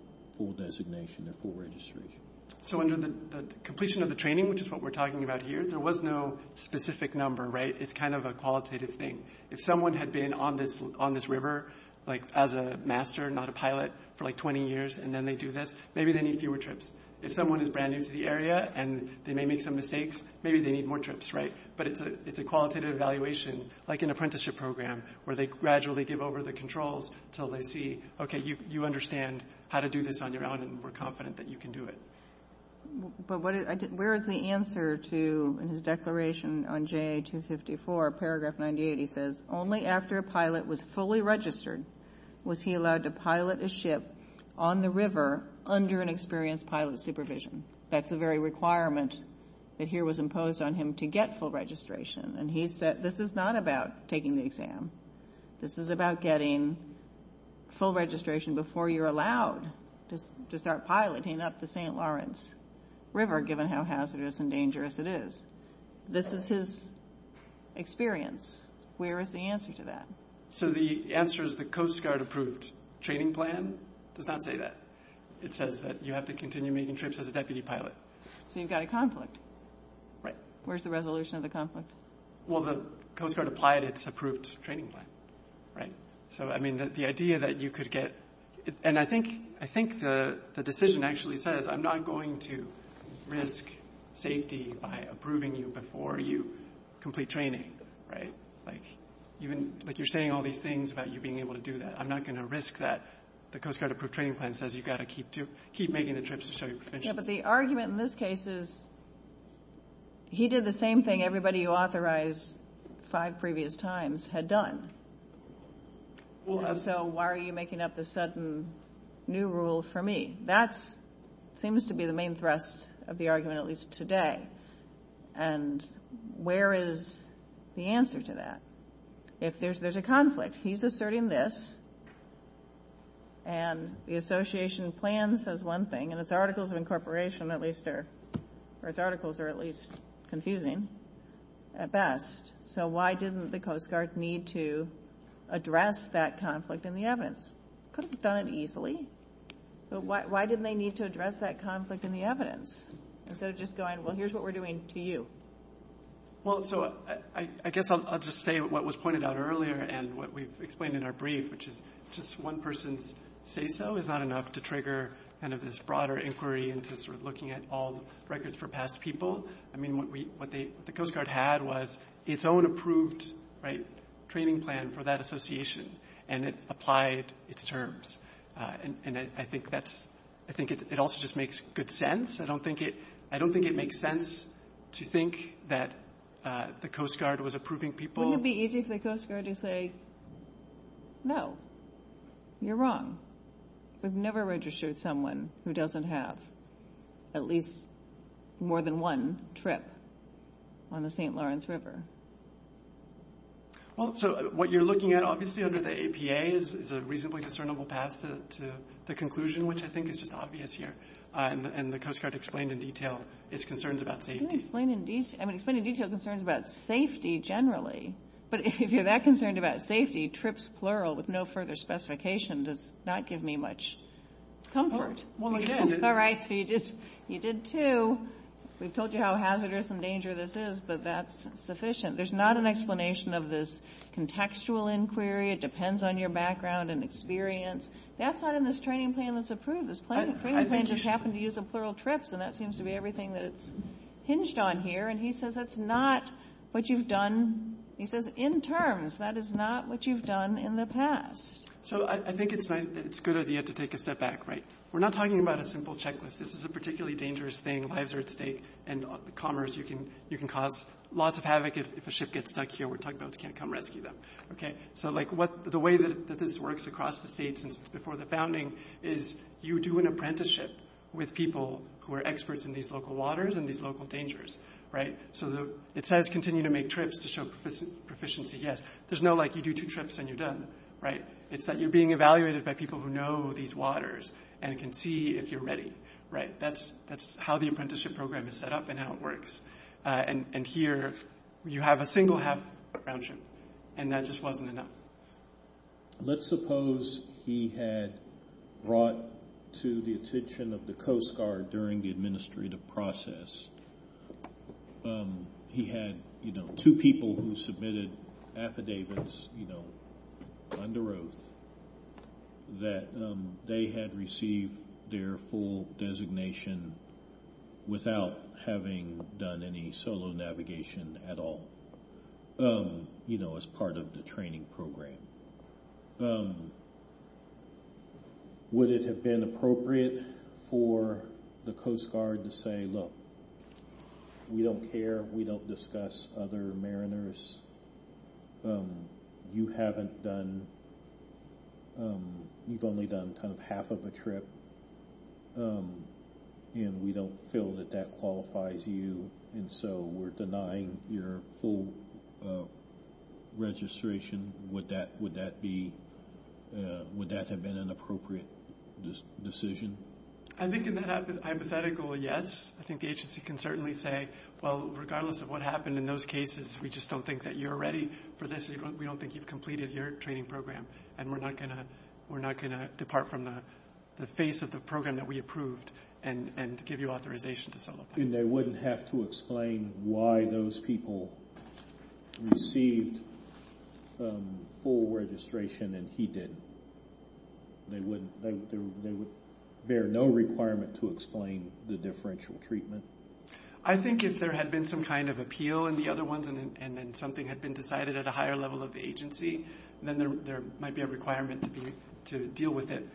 designation or full registration? So under the completion of the training, which is what we're talking about here, there was no specific number, right? It's kind of a qualitative thing. If someone had been on this river like as a master, not a pilot, for like 20 years and then they do this, maybe they need fewer trips. If someone is brand new to the area and they may make some mistakes, maybe they need more trips, right? But it's a qualitative evaluation like an apprenticeship program where they gradually give over the controls until they see, okay, you understand how to do this on your own and we're confident that you can do it. But where is the answer to his declaration on J. 254, paragraph 98? He says only after a pilot was fully registered was he allowed to pilot a ship on the river under an experienced pilot supervision. That's the very requirement that here was imposed on him to get full registration. And he said this is not about taking the exam. This is about getting full registration before you're allowed to start piloting up the St. Lawrence River, given how hazardous and dangerous it is. This is his experience. Where is the answer to that? So the answer is the Coast Guard approved training plan does not say that. It says that you have to continue making trips as a deputy pilot. So you've got a conflict. Right. Where's the resolution of the conflict? Well, the Coast Guard applied its approved training plan. Right. So, I mean, the idea that you could get – and I think the decision actually says I'm not going to risk safety by approving you before you complete training. Right. Like you're saying all these things about you being able to do that. I'm not going to risk that. The Coast Guard approved training plan says you've got to keep making the trips. Yeah, but the argument in this case is he did the same thing everybody who authorized five previous times had done. So why are you making up this sudden new rule for me? That seems to be the main thrust of the argument, at least today. And where is the answer to that? If there's a conflict, he's asserting this. And the association plan says one thing. And its articles of incorporation, at least, or its articles are at least confusing at best. So why didn't the Coast Guard need to address that conflict in the evidence? They could have done it easily. So why didn't they need to address that conflict in the evidence? Instead of just going, well, here's what we're doing to you. Well, so I guess I'll just say what was pointed out earlier and what we've explained in our brief, which is just one person's say-so is not enough to trigger kind of this broader inquiry into sort of looking at all records for past people. I mean, what the Coast Guard had was its own approved training plan for that association. And it applied its terms. And I think it also just makes good sense. I don't think it makes sense to think that the Coast Guard was approving people. Wouldn't it be easier for the Coast Guard to say, no, you're wrong. We've never registered someone who doesn't have at least more than one trip on the St. Lawrence River. Well, so what you're looking at obviously under the APA is a reasonably discernible path to the conclusion, which I think is just obvious here. And the Coast Guard explained in detail its concerns about safety. It explained in detail concerns about safety generally. But if you're that concerned about safety, trips, plural, with no further specification, does not give me much comfort. All right, so you did two. We've told you how hazardous and dangerous this is, but that's sufficient. There's not an explanation of this contextual inquiry. It depends on your background and experience. That's not in this training plan that's approved. This training plan just happens to use the plural trips, and that seems to be everything that's hinged on here. And he says that's not what you've done. He says in terms. That is not what you've done in the past. So I think it's a good idea to take a step back, right? We're not talking about a simple checklist. This is a particularly dangerous thing. Lives are at stake, and commerce you can cause lots of havoc if a ship gets stuck here. We're talking about you can't come rescue them. Okay? So, like, the way that this works across the states and before the founding is you do an apprenticeship with people who are experts in these local waters and these local dangers, right? So it says continue to make trips to show proficiency. Yes. There's no, like, you do two trips and you're done, right? It's that you're being evaluated by people who know these waters and can see if you're ready, right? That's how the apprenticeship program is set up and how it works. And here you have a single-hap around you, and that just wasn't enough. Let's suppose he had brought to the attention of the Coast Guard during the administrative process. He had, you know, two people who submitted affidavits, you know, under oath, that they had received their full designation without having done any solo navigation at all, you know, as part of the training program. Would it have been appropriate for the Coast Guard to say, look, we don't care, we don't discuss other mariners, you haven't done, you've only done kind of half of a trip, and we don't feel that that qualifies you, and so we're denying your full registration? Would that have been an appropriate decision? I think in the hypothetical, yes. I think the agency can certainly say, well, regardless of what happened in those cases, we just don't think that you're ready for this. We don't think you've completed your training program, and we're not going to depart from the face of the program that we approved and give you authorization to follow up. And they wouldn't have to explain why those people received full registration and he didn't? They would bear no requirement to explain the differential treatment? I think if there had been some kind of appeal in the other ones and then something had been decided at a higher level of agency, then there might be a requirement to deal with it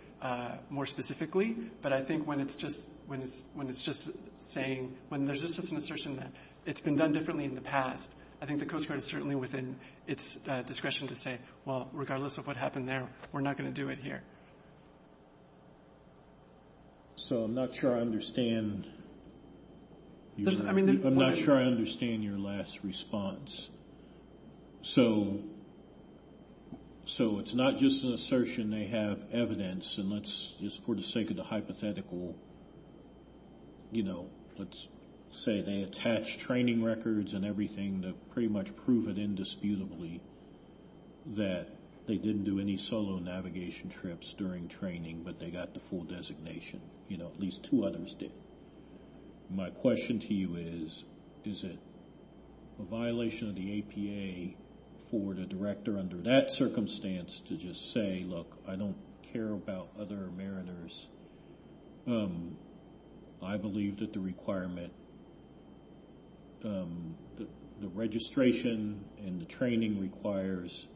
more specifically, but I think when it's just saying, when there's just an assertion that it's been done differently in the past, I think the Coast Guard is certainly within its discretion to say, well, regardless of what happened there, we're not going to do it here. So I'm not sure I understand your last response. So it's not just an assertion they have evidence, and let's just for the sake of the hypothetical, you know, let's say they attach training records and everything to pretty much prove it indisputably that they didn't do any solo navigation trips during training, but they got the full designation. You know, at least two others did. My question to you is, is it a violation of the APA for the director under that circumstance to just say, look, I don't care about other mariners. I believe that the requirement, the registration and the training requires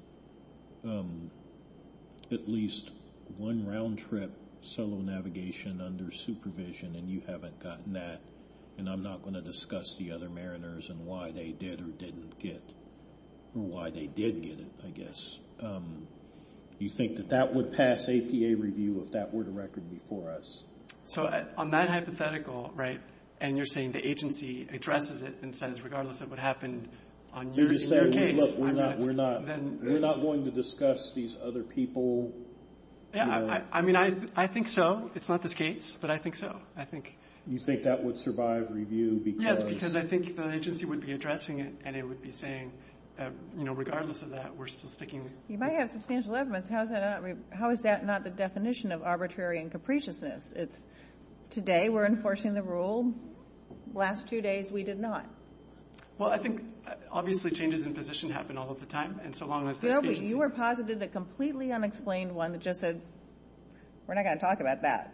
at least one round trip solo navigation under supervision, and you haven't gotten that, and I'm not going to discuss the other mariners and why they did or didn't get, or why they did get it, I guess. Do you think that that would pass APA review if that were the record before us? So on that hypothetical, right, and you're saying the agency addresses it and says, regardless of what happened on your case, I'm not going to. You're just saying, look, we're not going to discuss these other people. I mean, I think so. It's not this case, but I think so. You think that would survive review because. Yes, because I think the agency would be addressing it, and it would be saying, you know, regardless of that, we're still sticking. You might have substantial evidence. How is that not the definition of arbitrary and capriciousness? It's today we're enforcing the rule, last two days we did not. Well, I think, obviously, changes in position happen all of the time, and so long as. You were positive, a completely unexplained one that just said, we're not going to talk about that.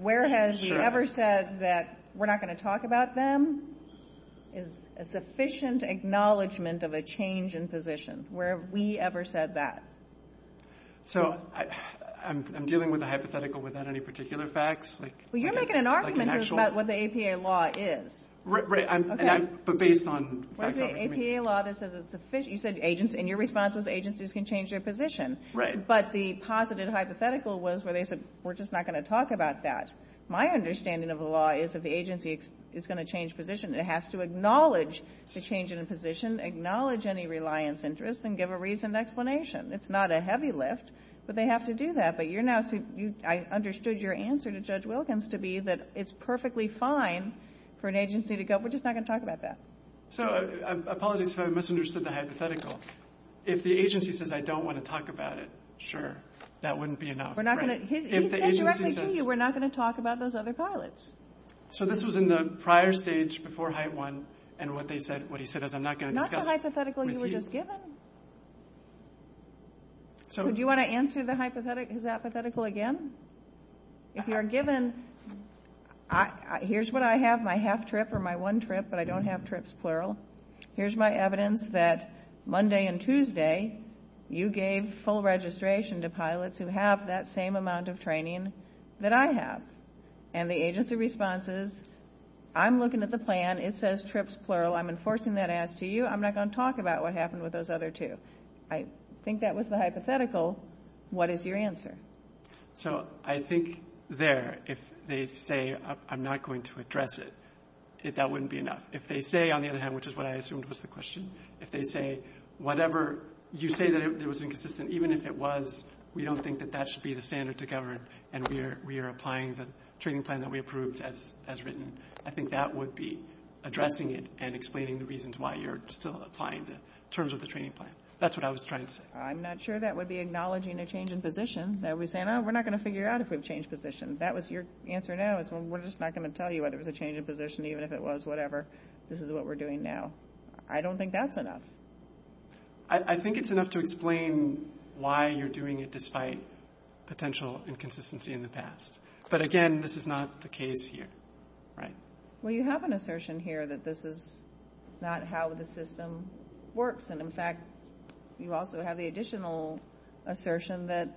Where has she ever said that we're not going to talk about them is a sufficient acknowledgement of a change in position. Where have we ever said that? So I'm dealing with a hypothetical without any particular facts. Well, you're making an argument about what the APA law is. Right, but based on. You said agency, and you're responsible if agencies can change their position. Right. But the positive hypothetical was where they said, we're just not going to talk about that. My understanding of the law is that the agency is going to change position. It has to acknowledge the change in a position, acknowledge any reliance interest, and give a reasoned explanation. It's not a heavy lift, but they have to do that. But I understood your answer to Judge Wilkins to be that it's perfectly fine for an agency to go, we're just not going to talk about that. So I apologize if I misunderstood the hypothetical. If the agency says, I don't want to talk about it, sure, that wouldn't be enough. He said directly to you, we're not going to talk about those other pilots. So this was in the prior stage before HITE-1, and what he said is, I'm not going to discuss. Not the hypothetical you were just given. Do you want to answer the hypothetical again? If you're given, here's what I have, my half trip or my one trip, but I don't have trips plural. Here's my evidence that Monday and Tuesday you gave full registration to pilots who have that same amount of training that I have. And the agency responses, I'm looking at the plan. It says trips plural. I'm enforcing that as to you. I'm not going to talk about what happened with those other two. I think that was the hypothetical. What is your answer? So I think there, if they say, I'm not going to address it, that wouldn't be enough. If they say, on the other hand, which is what I assumed was the question, if they say, whatever, you say that it was inconsistent. Even if it was, we don't think that that should be the standard to govern, and we are applying the training plan that we approved as written. I think that would be addressing it and explaining the reasons why you're still applying it in terms of the training plan. That's what I was trying to say. I'm not sure that would be acknowledging a change in position. We're not going to figure out if it was a change in position. That was your answer now. We're just not going to tell you whether it was a change in position, even if it was whatever. This is what we're doing now. I don't think that's enough. I think it's enough to explain why you're doing it despite potential inconsistency in the past. But, again, this is not the case here. Well, you have an assertion here that this is not how the system works. And, in fact, you also have the additional assertion that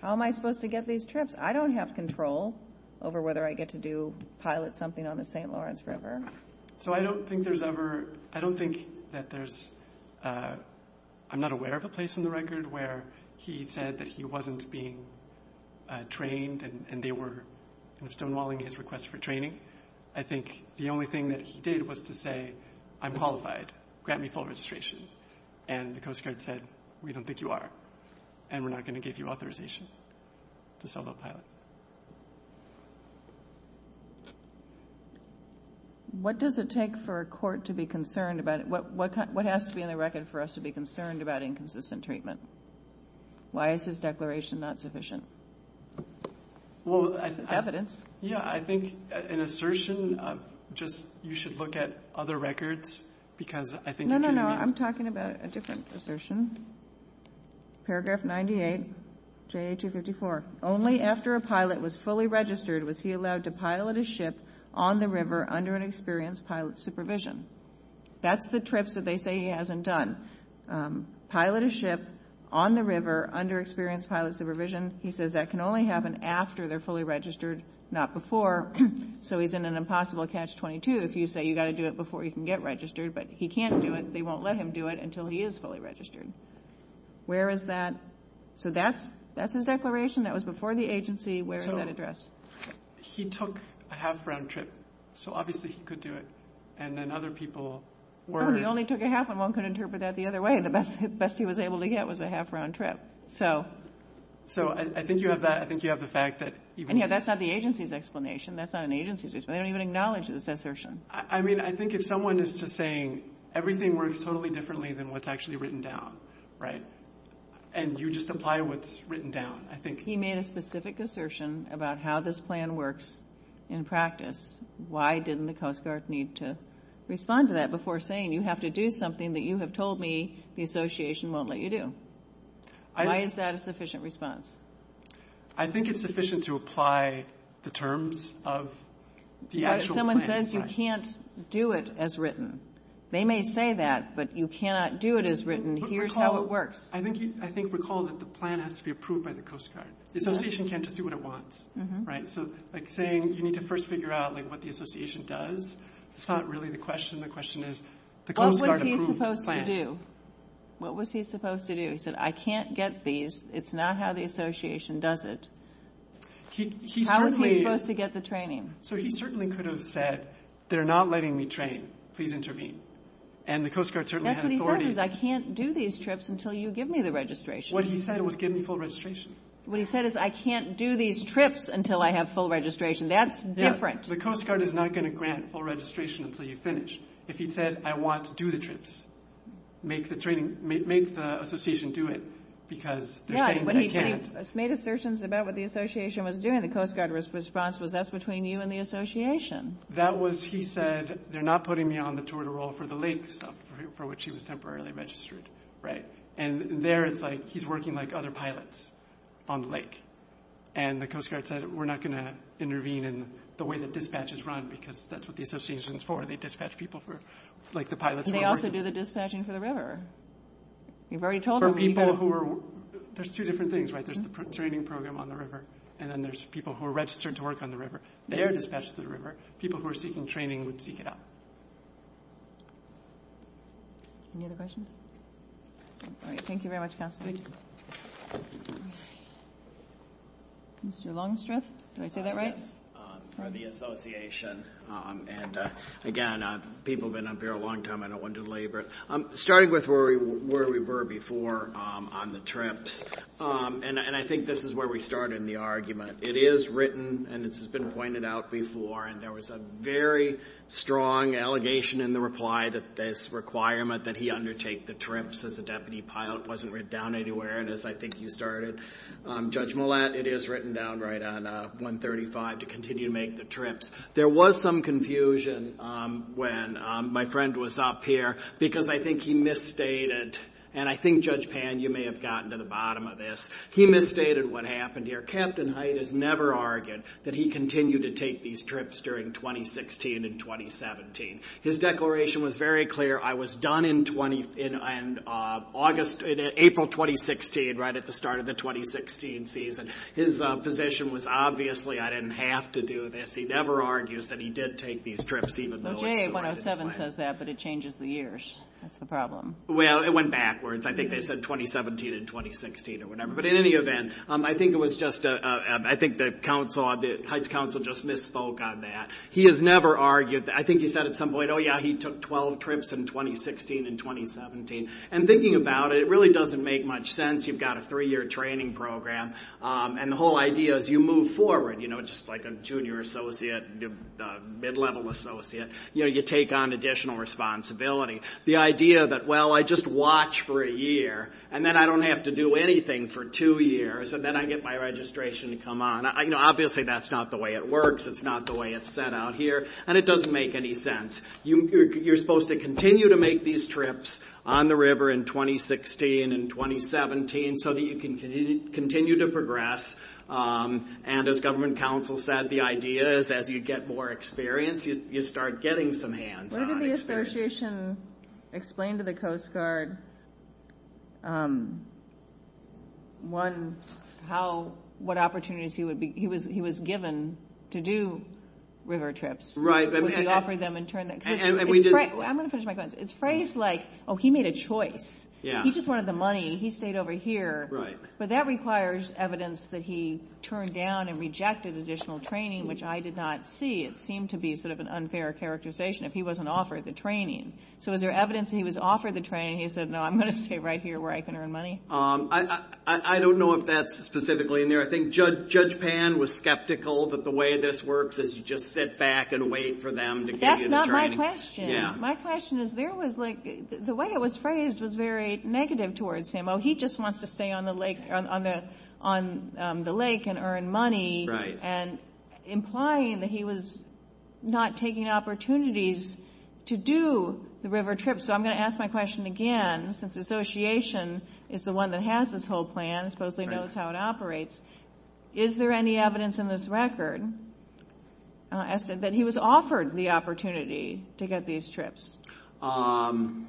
how am I supposed to get these trips? I don't have control over whether I get to do pilot something on the St. Lawrence River. So I don't think there's ever – I don't think that there's – I'm not aware of a place in the record where he said that he wasn't being trained and they were stonewalling his request for training. I think the only thing that he did was to say, I'm qualified. Grant me full registration. And the Coast Guard said, we don't think you are. And we're not going to give you authorization to sell that pilot. What does it take for a court to be concerned about – what has to be in the record for us to be concerned about inconsistent treatment? Why is his declaration not sufficient? Evidence. Yeah, I think an assertion – just you should look at other records because I think – No, no, no. I'm talking about a different assertion. Paragraph 98, JA 254. Only after a pilot was fully registered was he allowed to pilot a ship on the river under an experienced pilot's supervision. That's the trips that they say he hasn't done. Pilot a ship on the river under experienced pilot's supervision. He says that can only happen after they're fully registered, not before. So he's in an impossible catch-22 if you say you've got to do it before you can get registered. But he can't do it. They won't let him do it until he is fully registered. Where is that – so that's his declaration. That was before the agency. Where is that address? He took a half-round trip. So obviously he could do it. And then other people were – No, he only took a half. And one could interpret that the other way. The best he was able to get was a half-round trip. So I think you have the fact that – And, yeah, that's not the agency's explanation. That's not an agency's explanation. They don't even acknowledge this assertion. I mean, I think if someone is just saying everything works totally differently than what's actually written down, right, and you just apply what's written down, I think – He made a specific assertion about how this plan works in practice. Why didn't the Coast Guard need to respond to that before saying, you have to do something that you have told me the association won't let you do? Why is that a sufficient response? I think it's sufficient to apply the terms of the actual plan in practice. Someone says you can't do it as written. They may say that, but you cannot do it as written. Here's how it works. I think recall that the plan has to be approved by the Coast Guard. The association can't just do what it wants, right? So, like, saying you need to first figure out, like, what the association does, it's not really the question. The question is, what was he supposed to do? What was he supposed to do? He said, I can't get these. It's not how the association does it. How was he supposed to get the training? So he certainly could have said, they're not letting me train. Please intervene. And the Coast Guard certainly has authority. That's what he said, is I can't do these trips until you give me the registration. What he said was, give me full registration. What he said is, I can't do these trips until I have full registration. That's different. The Coast Guard is not going to grant full registration until you finish. If he said, I want to do the trips, make the association do it, because they're saying they can't. Yeah, when he made assertions about what the association was doing, the Coast Guard response was, that's between you and the association. That was, he said, they're not putting me on the tour to roll for the lakes, for which he was temporarily registered, right? And there it's like, he's working like other pilots on the lake. And the Coast Guard said, we're not going to intervene in the way that dispatch is run, because that's what the association is for. They dispatch people for, like the pilots. They also do the dispatching for the river. You've already told them. For people who are, there's two different things, right? There's the training program on the river, and then there's people who are registered to work on the river. They are dispatched to the river. People who are seeking training would seek it out. Any other questions? All right. Thank you very much, Counselor. Thank you. Mr. Longstreth, did I say that right? For the association. And, again, people have been up here a long time. I don't want to delaborate. Starting with where we were before on the trips, and I think this is where we started in the argument. It is written, and this has been pointed out before, and there was a very strong allegation in the reply that this requirement that he undertake the trips as a deputy pilot wasn't written down anywhere. And, as I think you started, Judge Millett, it is written down right on 135 to continue to make the trips. There was some confusion when my friend was up here because I think he misstated, and I think, Judge Pan, you may have gotten to the bottom of this. He misstated what happened here. Captain Hyatt has never argued that he continued to take these trips during 2016 and 2017. His declaration was very clear. I was done in April 2016, right at the start of the 2016 season. His position was, obviously, I didn't have to do this. He never argues that he did take these trips, even though it was the right thing to do. The J107 says that, but it changes the years. That's the problem. Well, it went backwards. I think they said 2017 and 2016 or whatever. But, in any event, I think the council, the Heights Council, just misspoke on that. He has never argued. I think he said at some point, oh, yeah, he took 12 trips in 2016 and 2017. And thinking about it, it really doesn't make much sense. You've got a three-year training program, and the whole idea is you move forward, you know, just like a junior associate, a mid-level associate. You know, you take on additional responsibility. The idea that, well, I just watch for a year, and then I don't have to do anything for two years, and then I get my registration to come on. You know, obviously, that's not the way it works. It's not the way it's set out here. And it doesn't make any sense. You're supposed to continue to make these trips on the river in 2016 and 2017 so that you can continue to progress. And, as government council said, the idea is as you get more experience, you start getting some hands-on experience. When did the association explain to the Coast Guard what opportunities he was given to do river trips? I'm going to finish my comments. It's phrased like, oh, he made a choice. He just wanted the money. He stayed over here. Right. But that requires evidence that he turned down and rejected additional training, which I did not see. It seemed to be sort of an unfair characterization if he wasn't offered the training. So is there evidence that he was offered the training and he said, no, I'm going to stay right here where I can earn money? I don't know if that's specifically in there. I think Judge Pan was skeptical that the way this works is just sit back and wait for them to give you the training. That's not my question. My question is there was like the way it was phrased was very negative towards him. He just wants to stay on the lake and earn money and implying that he was not taking opportunities to do the river trips. So I'm going to ask my question again since the association is the one that has this whole plan, supposedly knows how it operates. Is there any evidence in this record that he was offered the opportunity to get these trips? I'm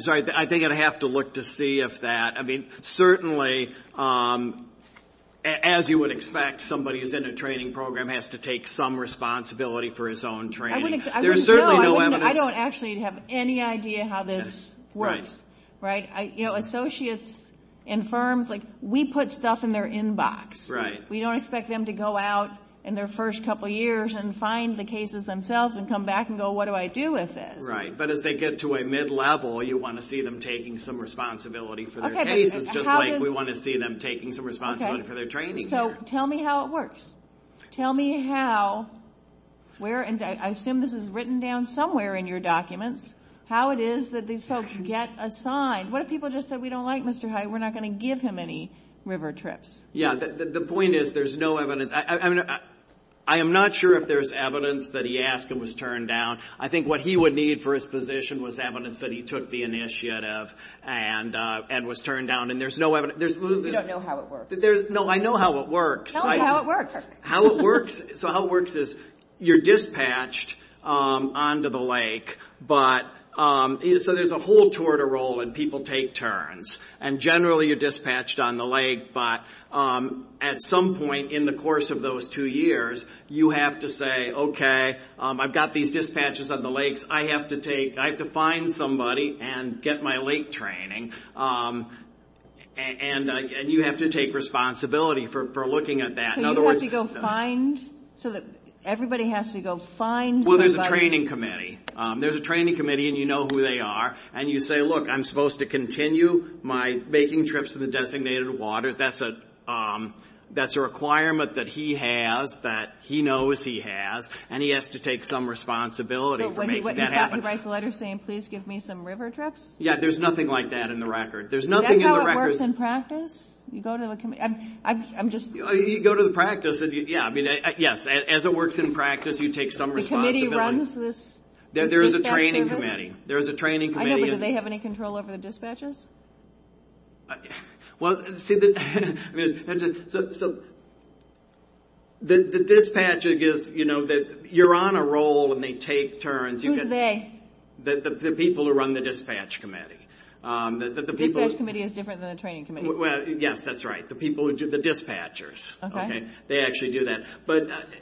sorry. I think I'd have to look to see if that. I mean, certainly, as you would expect, somebody who's in a training program has to take some responsibility for his own training. There's certainly no evidence. I don't actually have any idea how this works. Right. You know, associates and firms, like we put stuff in their inbox. Right. We don't expect them to go out in their first couple years and find the cases themselves and come back and go, what do I do with it? Right. But if they get to a mid-level, you want to see them taking some responsibility for their case. It's just like we want to see them taking some responsibility for their training. So tell me how it works. Tell me how, where, and I assume this is written down somewhere in your documents, how it is that these folks get assigned. What if people just said, we don't like Mr. Hyde. We're not going to give him any river trips. Yeah. The point is, there's no evidence. I am not sure if there's evidence that he asked and was turned down. I think what he would need for his position was evidence that he took the initiative and was turned down. And there's no evidence. You don't know how it works. No, I know how it works. Tell me how it works. How it works is, you're dispatched onto the lake, so there's a whole tour to roll and people take turns. And generally, you're dispatched on the lake. But at some point in the course of those two years, you have to say, okay, I've got these dispatches on the lake. I have to take, I have to find somebody and get my lake training. And you have to take responsibility for looking at that. So you have to go find, so that everybody has to go find somebody. Well, there's a training committee. There's a training committee and you know who they are. And you say, look, I'm supposed to continue my making trips to the designated waters. That's a requirement that he has, that he knows he has. And he has to take some responsibility for making that happen. He writes a letter saying, please give me some river trips? Yeah, there's nothing like that in the record. There's nothing in the record. That's how it works in practice? You go to the committee. I'm just. You go to the practice. Yeah, I mean, yes, as it works in practice, you take some responsibility. The committee runs this. There's a training committee. There's a training committee. Do they have any control over the dispatchers? Well, see, the dispatcher gets, you know, you're on a roll when they take turns. Who's they? The people who run the dispatch committee. The dispatch committee is different than the training committee. Yes, that's right. The people, the dispatchers. Okay. They actually do that.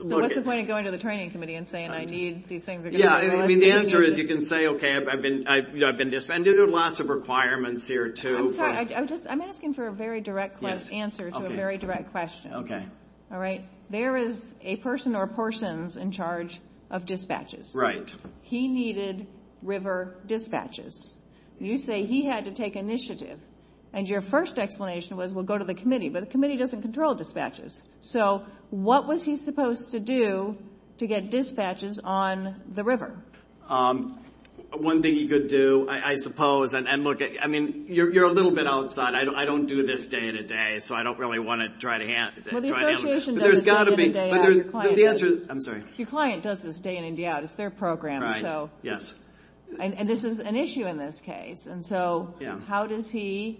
So what's the point of going to the training committee and saying, I need these things. Yeah, I mean, the answer is you can say, okay, I've been defended. There are lots of requirements here, too. I'm sorry. I'm asking for a very direct answer to a very direct question. Okay. All right. There is a person or portions in charge of dispatches. Right. He needed river dispatches. You say he had to take initiative. And your first explanation was, well, go to the committee. But the committee doesn't control dispatches. So what was he supposed to do to get dispatches on the river? One thing you could do, I suppose, and look, I mean, you're a little bit outside. I don't do this day in and day out. So I don't really want to try to answer. Well, the association does this day in and day out. I'm sorry. Your client does this day in and day out. It's their program. Right. Yes. And this is an issue in this case. And so how does he,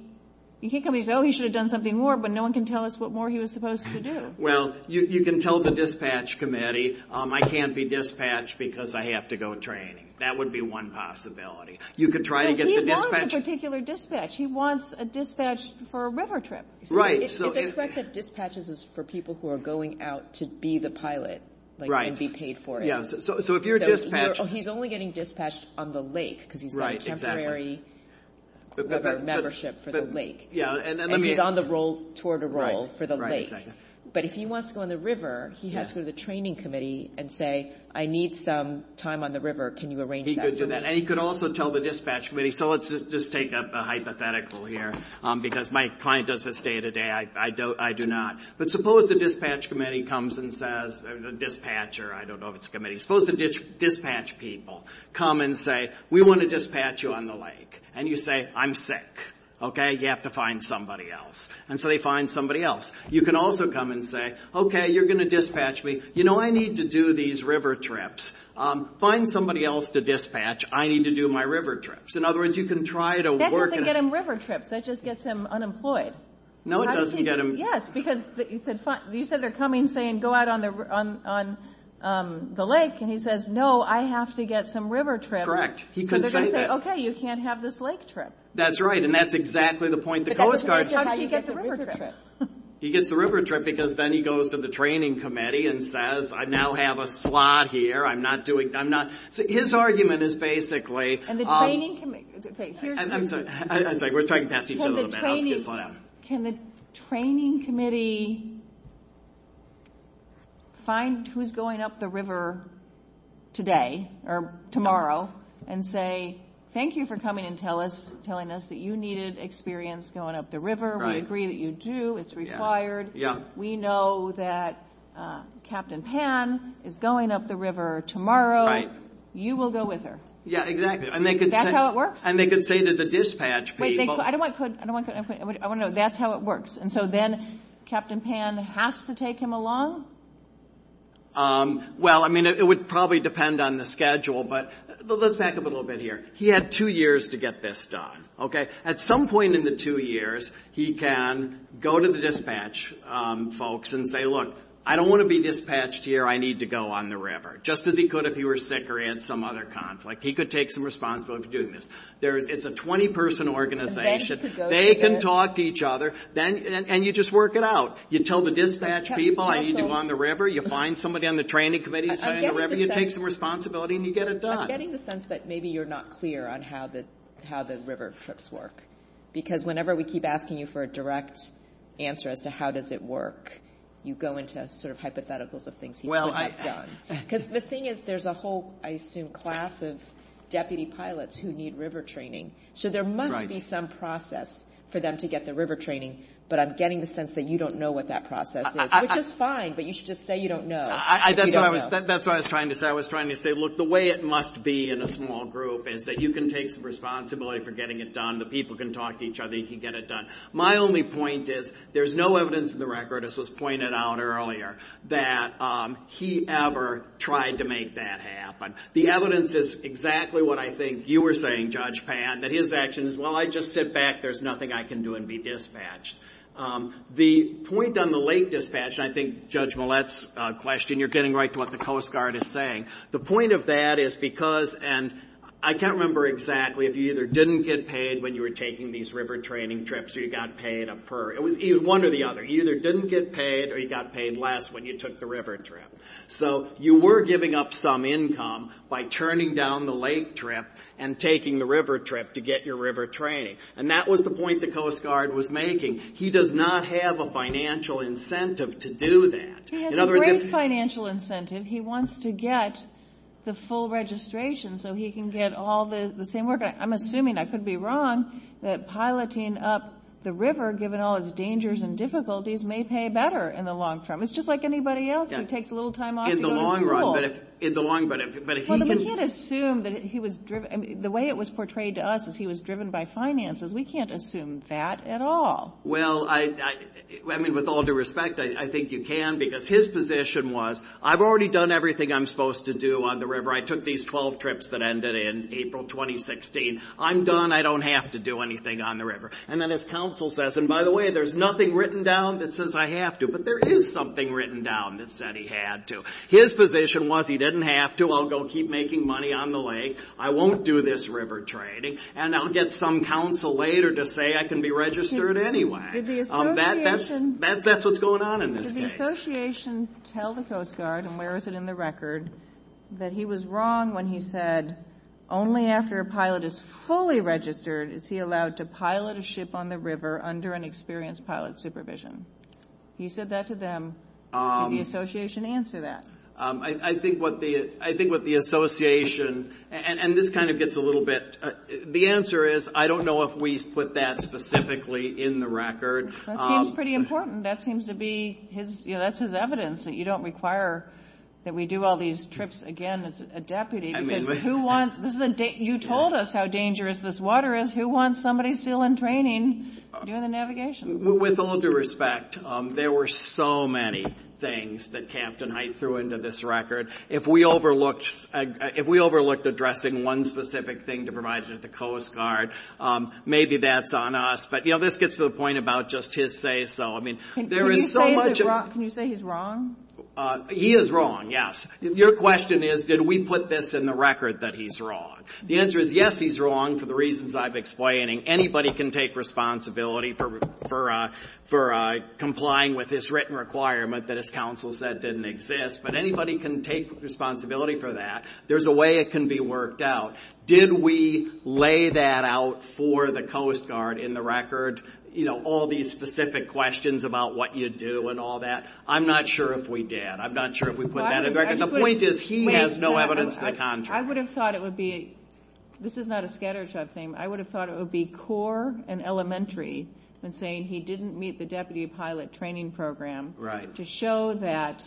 you can't tell me, oh, he should have done something more, but no one can tell us what more he was supposed to do. Well, you can tell the dispatch committee, I can't be dispatched because I have to go training. That would be one possibility. You could try to get the dispatch. He wants a particular dispatch. He wants a dispatch for a river trip. Right. It's expected that dispatches is for people who are going out to be the pilot. Right. And be paid for it. So if you're a dispatch. He's only getting dispatched on the lake because he's got a temporary membership for the lake. And he's on the road toward a role for the lake. But if he wants to go on the river, he has to go to the training committee and say, I need some time on the river. Can you arrange that? He could do that. And he could also tell the dispatch committee, so let's just take a hypothetical here because my client does this day to day. I do not. But suppose the dispatch committee comes and says, the dispatcher, I don't know if it's a committee. Suppose the dispatch people come and say, we want to dispatch you on the lake. And you say, I'm sick. Okay. You have to find somebody else. And so they find somebody else. You can also come and say, okay, you're going to dispatch me. You know, I need to do these river trips. Find somebody else to dispatch. I need to do my river trips. In other words, you can try to work it out. That doesn't get him river trips. That just gets him unemployed. No, it doesn't get him. Yes, because you said they're coming saying go out on the lake. And he says, no, I have to get some river trips. Correct. He can say that. Okay, you can't have this lake trip. That's right. And that's exactly the point the Coast Guard tries to get the river trip. He gets the river trip because then he goes to the training committee and says, I now have a slot here. I'm not doing, I'm not. So his argument is basically. And the training committee. We're talking past each other a little bit. Can the training committee find who's going up the river today or tomorrow and say, okay, thank you for coming and telling us that you needed experience going up the river. We agree that you do. It's required. We know that Captain Pan is going up the river tomorrow. You will go with her. Yeah, exactly. And that's how it works? And they can say to the dispatch people. I don't want to put, I want to know that's how it works. And so then Captain Pan has to take him along? Well, I mean, it would probably depend on the schedule. But let's back up a little bit here. He had two years to get this done. Okay. At some point in the two years, he can go to the dispatch folks and say, look, I don't want to be dispatched here. I need to go on the river. Just as he could if he were sick or had some other conflict. He could take some responsibility for doing this. It's a 20-person organization. They can talk to each other. And you just work it out. You tell the dispatch people, I need you on the river. You find somebody on the training committee, you take some responsibility, and you get it done. I'm getting the sense that maybe you're not clear on how the river trips work. Because whenever we keep asking you for a direct answer as to how does it work, you go into sort of hypotheticals of things you want to get done. Because the thing is, there's a whole, I assume, class of deputy pilots who need river training. So there must be some process for them to get the river training. But I'm getting the sense that you don't know what that process is. Which is fine, but you should just say you don't know. That's what I was trying to say. I was trying to say, look, the way it must be in a small group is that you can take some responsibility for getting it done. The people can talk to each other. You can get it done. My only point is there's no evidence in the record, as was pointed out earlier, that he ever tried to make that happen. The evidence is exactly what I think you were saying, Judge Pan, that his action is, well, I just sit back. There's nothing I can do and be dispatched. The point on the late dispatch, and I think Judge Millett's question, you're getting right to what the Coast Guard is saying. The point of that is because, and I can't remember exactly, if you either didn't get paid when you were taking these river training trips or you got paid for either one or the other. You either didn't get paid or you got paid less when you took the river trip. So you were giving up some income by turning down the late trip and taking the river trip to get your river training. And that was the point the Coast Guard was making. He does not have a financial incentive to do that. He has a great financial incentive. He wants to get the full registration so he can get all the same work. I'm assuming, I could be wrong, that piloting up the river, given all its dangers and difficulties, may pay better in the long term. It's just like anybody else who takes a little time off to go to school. Well, we can't assume that he was driven. The way it was portrayed to us is he was driven by finances. We can't assume that at all. Well, I mean, with all due respect, I think you can because his position was, I've already done everything I'm supposed to do on the river. I took these 12 trips that ended in April 2016. I'm done. I don't have to do anything on the river. And then his counsel says, and by the way, there's nothing written down that says I have to. But there is something written down that said he had to. His position was he didn't have to. I'll go keep making money on the lake. I won't do this river training. And I'll get some counsel later to say I can be registered anyway. That's what's going on in this case. Did the association tell the Coast Guard, and where is it in the record, that he was wrong when he said, only after a pilot is fully registered is he allowed to pilot a ship on the river under an experienced pilot's supervision? He said that to them. Did the association answer that? I think what the association, and this kind of gets a little bit, the answer is I don't know if we put that specifically in the record. That seems pretty important. That's his evidence that you don't require that we do all these trips again as a deputy. You told us how dangerous this water is. Who wants somebody still in training doing the navigation? With all due respect, there were so many things that Campton Heights threw into this record. If we overlooked addressing one specific thing to provide to the Coast Guard, maybe that's on us. But, you know, this gets to the point about just his say-so. Can you say he's wrong? He is wrong, yes. Your question is, did we put this in the record that he's wrong? The answer is, yes, he's wrong for the reasons I'm explaining. Anybody can take responsibility for complying with this written requirement that his counsel said didn't exist, but anybody can take responsibility for that. There's a way it can be worked out. Did we lay that out for the Coast Guard in the record, you know, all these specific questions about what you do and all that? I'm not sure if we did. I'm not sure if we put that in the record. The point is he has no evidence to contradict. I would have thought it would be, this is not a scattershot thing, I would have thought it would be core and elementary in saying he didn't meet the deputy pilot training program to show that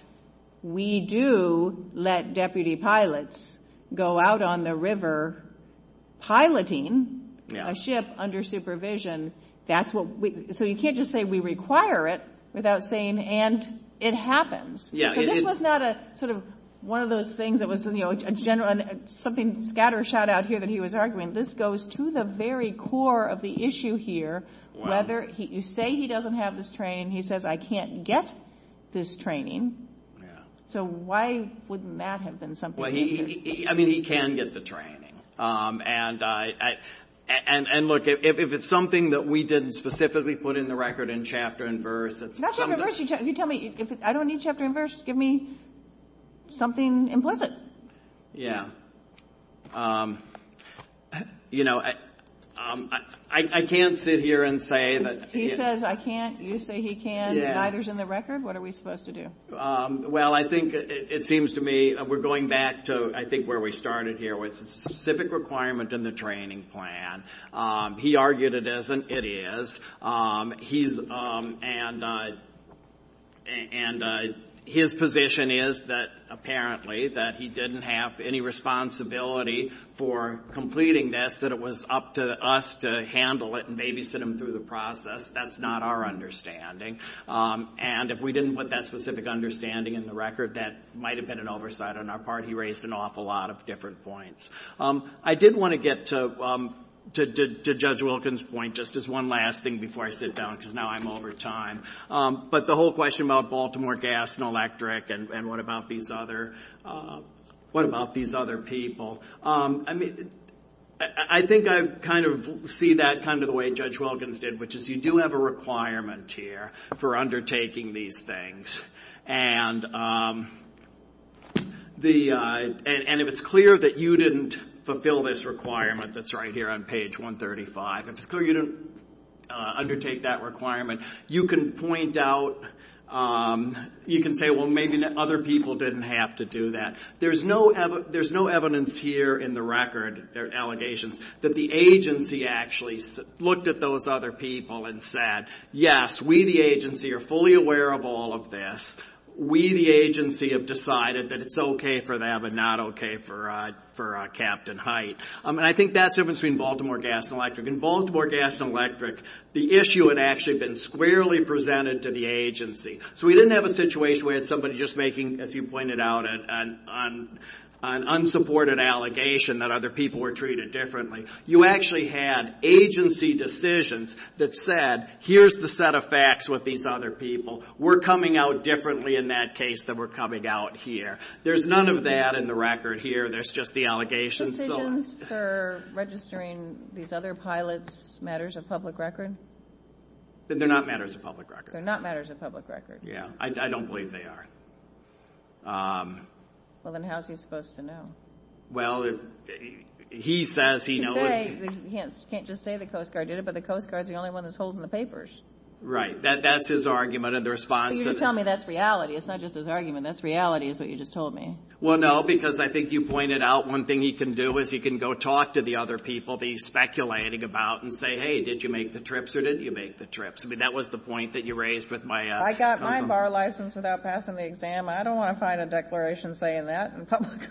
we do let deputy pilots go out on the river piloting a ship under supervision. So you can't just say we require it without saying, and it happens. This was not a sort of one of those things that was, you know, This goes to the very core of the issue here. You say he doesn't have this training. He says I can't get this training. So why wouldn't that have been something? I mean, he can get the training. And look, if it's something that we didn't specifically put in the record in chapter and verse, You tell me, I don't need chapter and verse. Give me something implicit. Yeah. You know, I can't sit here and say that He says I can't. You say he can. Neither is in the record. What are we supposed to do? Well, I think it seems to me, we're going back to I think where we started here with specific requirements in the training plan. He argued it isn't. It is. And his position is that apparently that he didn't have any responsibility for completing this, that it was up to us to handle it and maybe sit him through the process. That's not our understanding. And if we didn't put that specific understanding in the record, that might have been an oversight on our part. He raised an awful lot of different points. I did want to get to Judge Wilkins' point just as one last thing before I sit down because now I'm over time. But the whole question about Baltimore Gas and Electric and what about these other people. I mean, I think I kind of see that kind of the way Judge Wilkins did, which is you do have a requirement here for undertaking these things. And if it's clear that you didn't fulfill this requirement that's right here on page 135, if it's clear you didn't undertake that requirement, you can point out, you can say, well, maybe other people didn't have to do that. There's no evidence here in the record, their allegations, that the agency actually looked at those other people and said, yes, we, the agency, are fully aware of all of this. We, the agency, have decided that it's okay for them and not okay for Captain Hite. And I think that's the difference between Baltimore Gas and Electric. In Baltimore Gas and Electric, the issue had actually been squarely presented to the agency. So we didn't have a situation where somebody was just making, as you pointed out, an unsupported allegation that other people were treated differently. You actually had agency decisions that said, here's the set of facts with these other people. We're coming out differently in that case than we're coming out here. There's none of that in the record here. There's just the allegations. The decisions for registering these other pilots matters of public record? They're not matters of public record. They're not matters of public record. Yeah, I don't believe they are. Well, then how's he supposed to know? Well, he says he knows. You can't just say the Coast Guard did it, but the Coast Guard is the only one that's holding the papers. Right. That's his argument in response to this. You're telling me that's reality. It's not just his argument. That's reality is what you just told me. Well, no, because I think you pointed out one thing he can do is he can go talk to the other people that he's speculating about and say, hey, did you make the trips or did you make the trips? I mean, that was the point that you raised with my. I got my bar license without passing the exam. I don't want to find a declaration saying that in public.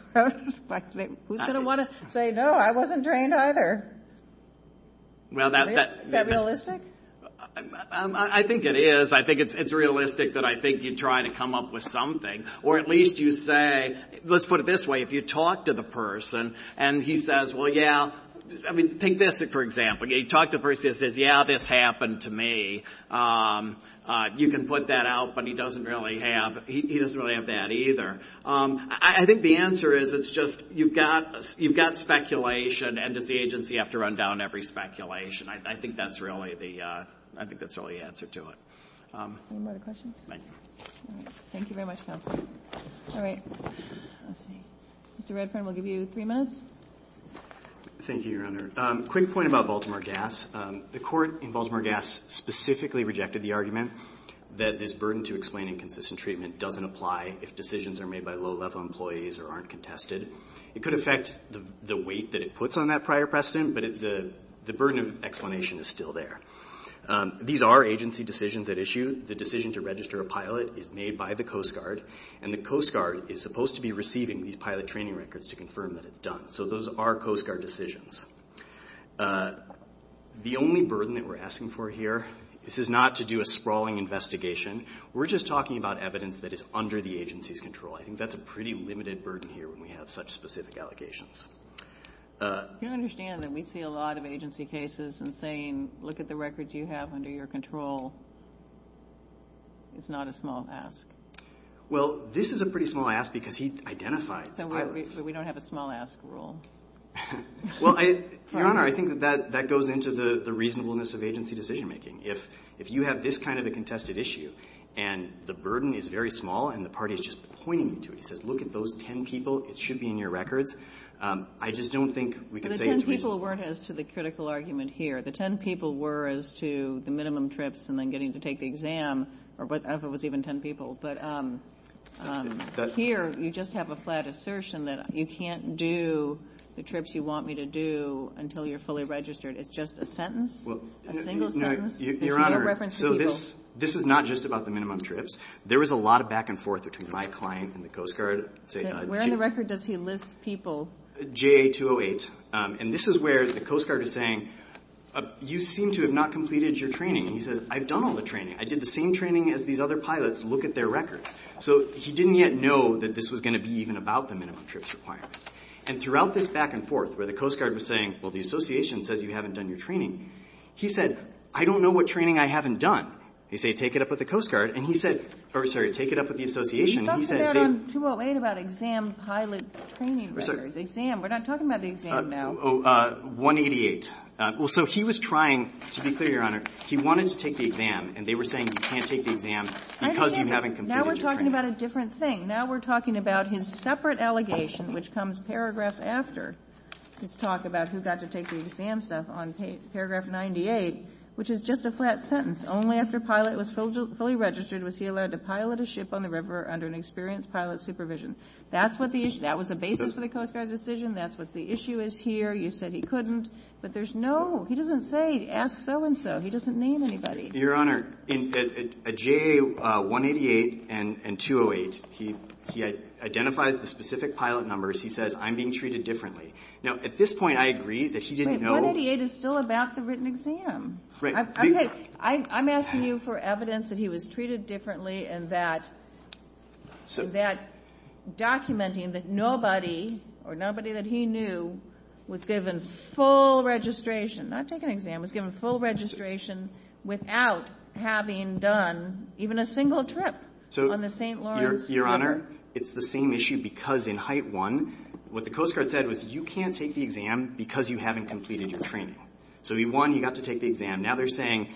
Who's going to want to say, no, I wasn't trained either? Is that realistic? I think it is. I think it's realistic that I think you try to come up with something. Or at least you say, let's put it this way, if you talk to the person and he says, well, yeah, I mean, take this for example. You talk to the person who says, yeah, this happened to me. You can put that out, but he doesn't really have that either. I think the answer is it's just you've got speculation and the agency has to run down every speculation. I think that's really the answer to it. Any more questions? Thank you. Thank you very much, Councilman. All right. Mr. Redfern, we'll give you three minutes. Thank you, Your Honor. Quick point about Baltimore Gas. The court in Baltimore Gas specifically rejected the argument that this burden to explain inconsistent treatment doesn't apply if decisions are made by low-level employees or aren't contested. It could affect the weight that it puts on that prior precedent, but the burden of explanation is still there. These are agency decisions at issue. The decision to register a pilot is made by the Coast Guard, and the Coast Guard is supposed to be receiving these pilot training records to confirm that it's done. So those are Coast Guard decisions. The only burden that we're asking for here, this is not to do a sprawling investigation. We're just talking about evidence that is under the agency's control. I think that's a pretty limited burden here when we have such specific allegations. You understand that we see a lot of agency cases and saying, look at the records you have under your control. It's not a small ask. Well, this is a pretty small ask because he identified the pilot. So we don't have a small ask rule. Well, Your Honor, I think that that goes into the reasonableness of agency decision-making. If you have this kind of a contested issue, and the burden is very small, and the party is just pointing to it and says, look at those 10 people. It should be in your records. I just don't think we could say it's reasonable. The 10 people weren't as to the critical argument here. The 10 people were as to the minimum trips and then getting to take the exam, or whatever was even 10 people. But here you just have a flat assertion that you can't do the trips you want me to do until you're fully registered. It's just a sentence? A single sentence? Your Honor, this is not just about the minimum trips. There was a lot of back and forth between my client and the Coast Guard. Where in the record does he list people? JA-208. And this is where the Coast Guard is saying, you seem to have not completed your training. He says, I've done all the training. I did the same training as these other pilots. Look at their records. So he didn't yet know that this was going to be even about the minimum trips requirement. And throughout this back and forth where the Coast Guard was saying, well, the Association says you haven't done your training, he said, I don't know what training I haven't done. They say, take it up with the Coast Guard. And he said, or sorry, take it up with the Association. He talked about in 208 about exam pilot training records. Exam, we're not talking about the exam now. 188. So he was trying, to be clear, Your Honor, he wanted to take the exam, and they were saying you can't take the exam because you haven't completed your training. Now we're talking about a different thing. Now we're talking about his separate allegation, which comes paragraphs after his talk about who got to take the exam stuff on paragraph 98, which is just a flat sentence. Only after pilot was fully registered was he allowed to pilot a ship on the river under an experienced pilot's supervision. That was the basis of the Coast Guard's decision. That's what the issue is here. You said he couldn't. But there's no, he doesn't say, ask so-and-so. He doesn't name anybody. Your Honor, at JA 188 and 208, he identifies the specific pilot numbers. He says, I'm being treated differently. Now, at this point, I agree that he didn't know. But 188 is still about the written exam. I'm asking you for evidence that he was treated differently and that documenting that nobody or nobody that he knew was given full registration, not taking an exam, was given full registration without having done even a single trip on the St. Lawrence River. Your Honor, it's the same issue because in Height 1, what the Coast Guard said was, you can't take the exam because you haven't completed your training. So he won, he got to take the exam. Now they're saying,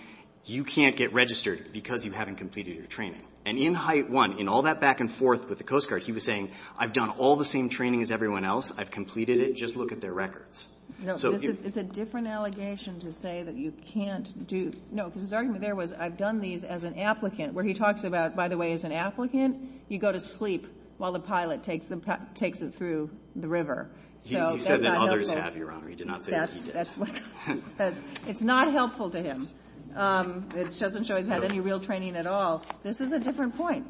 you can't get registered because you haven't completed your training. And in Height 1, in all that back and forth with the Coast Guard, he was saying, I've done all the same training as everyone else. I've completed it. Just look at their records. It's a different allegation to say that you can't do. No, his argument there was, I've done these as an applicant, where he talks about, by the way, as an applicant, you go to sleep while the pilot takes it through the river. He said that others have, Your Honor. He did not say that he did. It's not helpful to him. It doesn't show he's had any real training at all. This is a different point.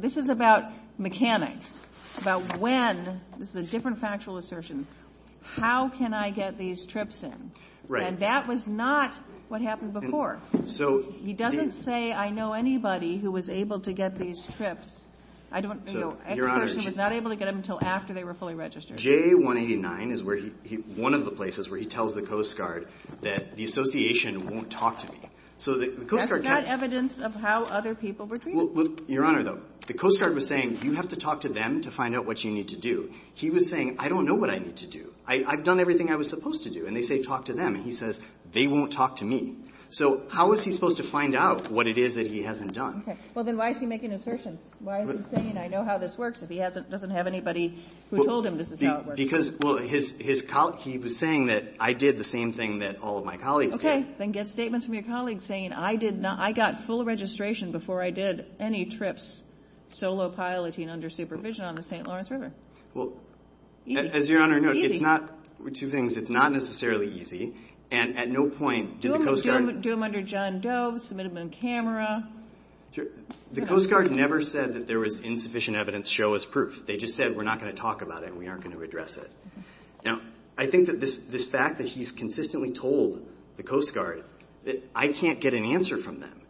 This is about mechanics, about when. This is a different factual assertion. How can I get these trips in? And that was not what happened before. He doesn't say, I know anybody who was able to get these trips. Every person was not able to get them until after they were fully registered. J189 is one of the places where he tells the Coast Guard that the Association won't talk to me. That's not evidence of how other people were treated. Your Honor, though, the Coast Guard was saying, you have to talk to them to find out what you need to do. He was saying, I don't know what I need to do. I've done everything I was supposed to do. And they say, talk to them. And he says, they won't talk to me. So how is he supposed to find out what it is that he hasn't done? Well, then why is he making assertions? Why is he saying, I know how this works, but he doesn't have anybody who told him this is how it works? Because, well, he was saying that I did the same thing that all of my colleagues did. Okay, then get statements from your colleagues saying, I got full registration before I did any trips, solo piloting under supervision on the St. Lawrence River. Well, as Your Honor knows, it's not necessarily easy. And at no point did the Coast Guard Do them under John Doe, submit them on camera. The Coast Guard never said that there was insufficient evidence. Show us proof. They just said, we're not going to talk about it and we aren't going to address it. Now, I think that this fact that he's consistently told the Coast Guard that I can't get an answer from them,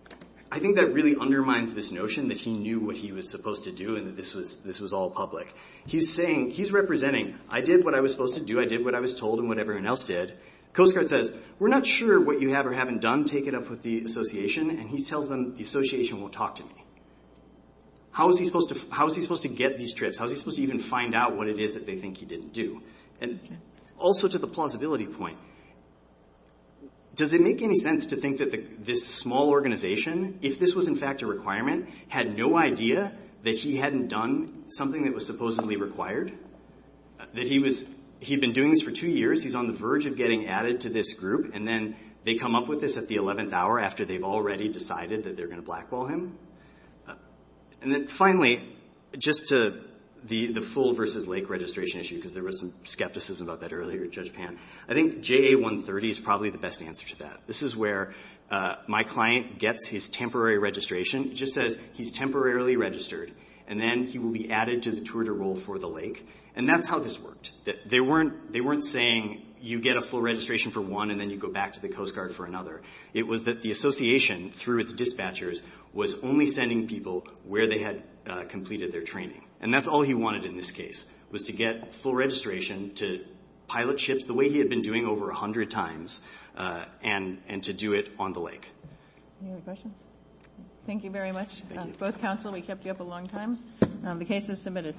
I think that really undermines this notion that he knew what he was supposed to do and that this was all public. He's saying, he's representing, I did what I was supposed to do. I did what I was told and what everyone else did. The Coast Guard says, we're not sure what you have or haven't done. I'm going to take it up with the association. And he tells them, the association won't talk to me. How is he supposed to get these trips? How is he supposed to even find out what it is that they think he didn't do? And also to the plausibility point, does it make any sense to think that this small organization, if this was in fact a requirement, had no idea that he hadn't done something that was supposedly required? That he'd been doing this for two years, he's on the verge of getting added to this group, and then they come up with this at the 11th hour after they've already decided that they're going to blackball him. And then finally, just to the full versus lake registration issue, because there was some skepticism about that earlier with Judge Pan, I think JA-130 is probably the best answer to that. This is where my client gets his temporary registration. It just says, he's temporarily registered, and then he will be added to the Twitter role for the lake. And that's how this worked. They weren't saying, you get a full registration for one, and then you go back to the Coast Guard for another. It was that the association, through its dispatchers, was only sending people where they had completed their training. And that's all he wanted in this case, was to get full registration, to pilot ships the way he had been doing over 100 times, and to do it on the lake. Any other questions? Thank you very much. Both counsel, we kept you up a long time. The case is submitted.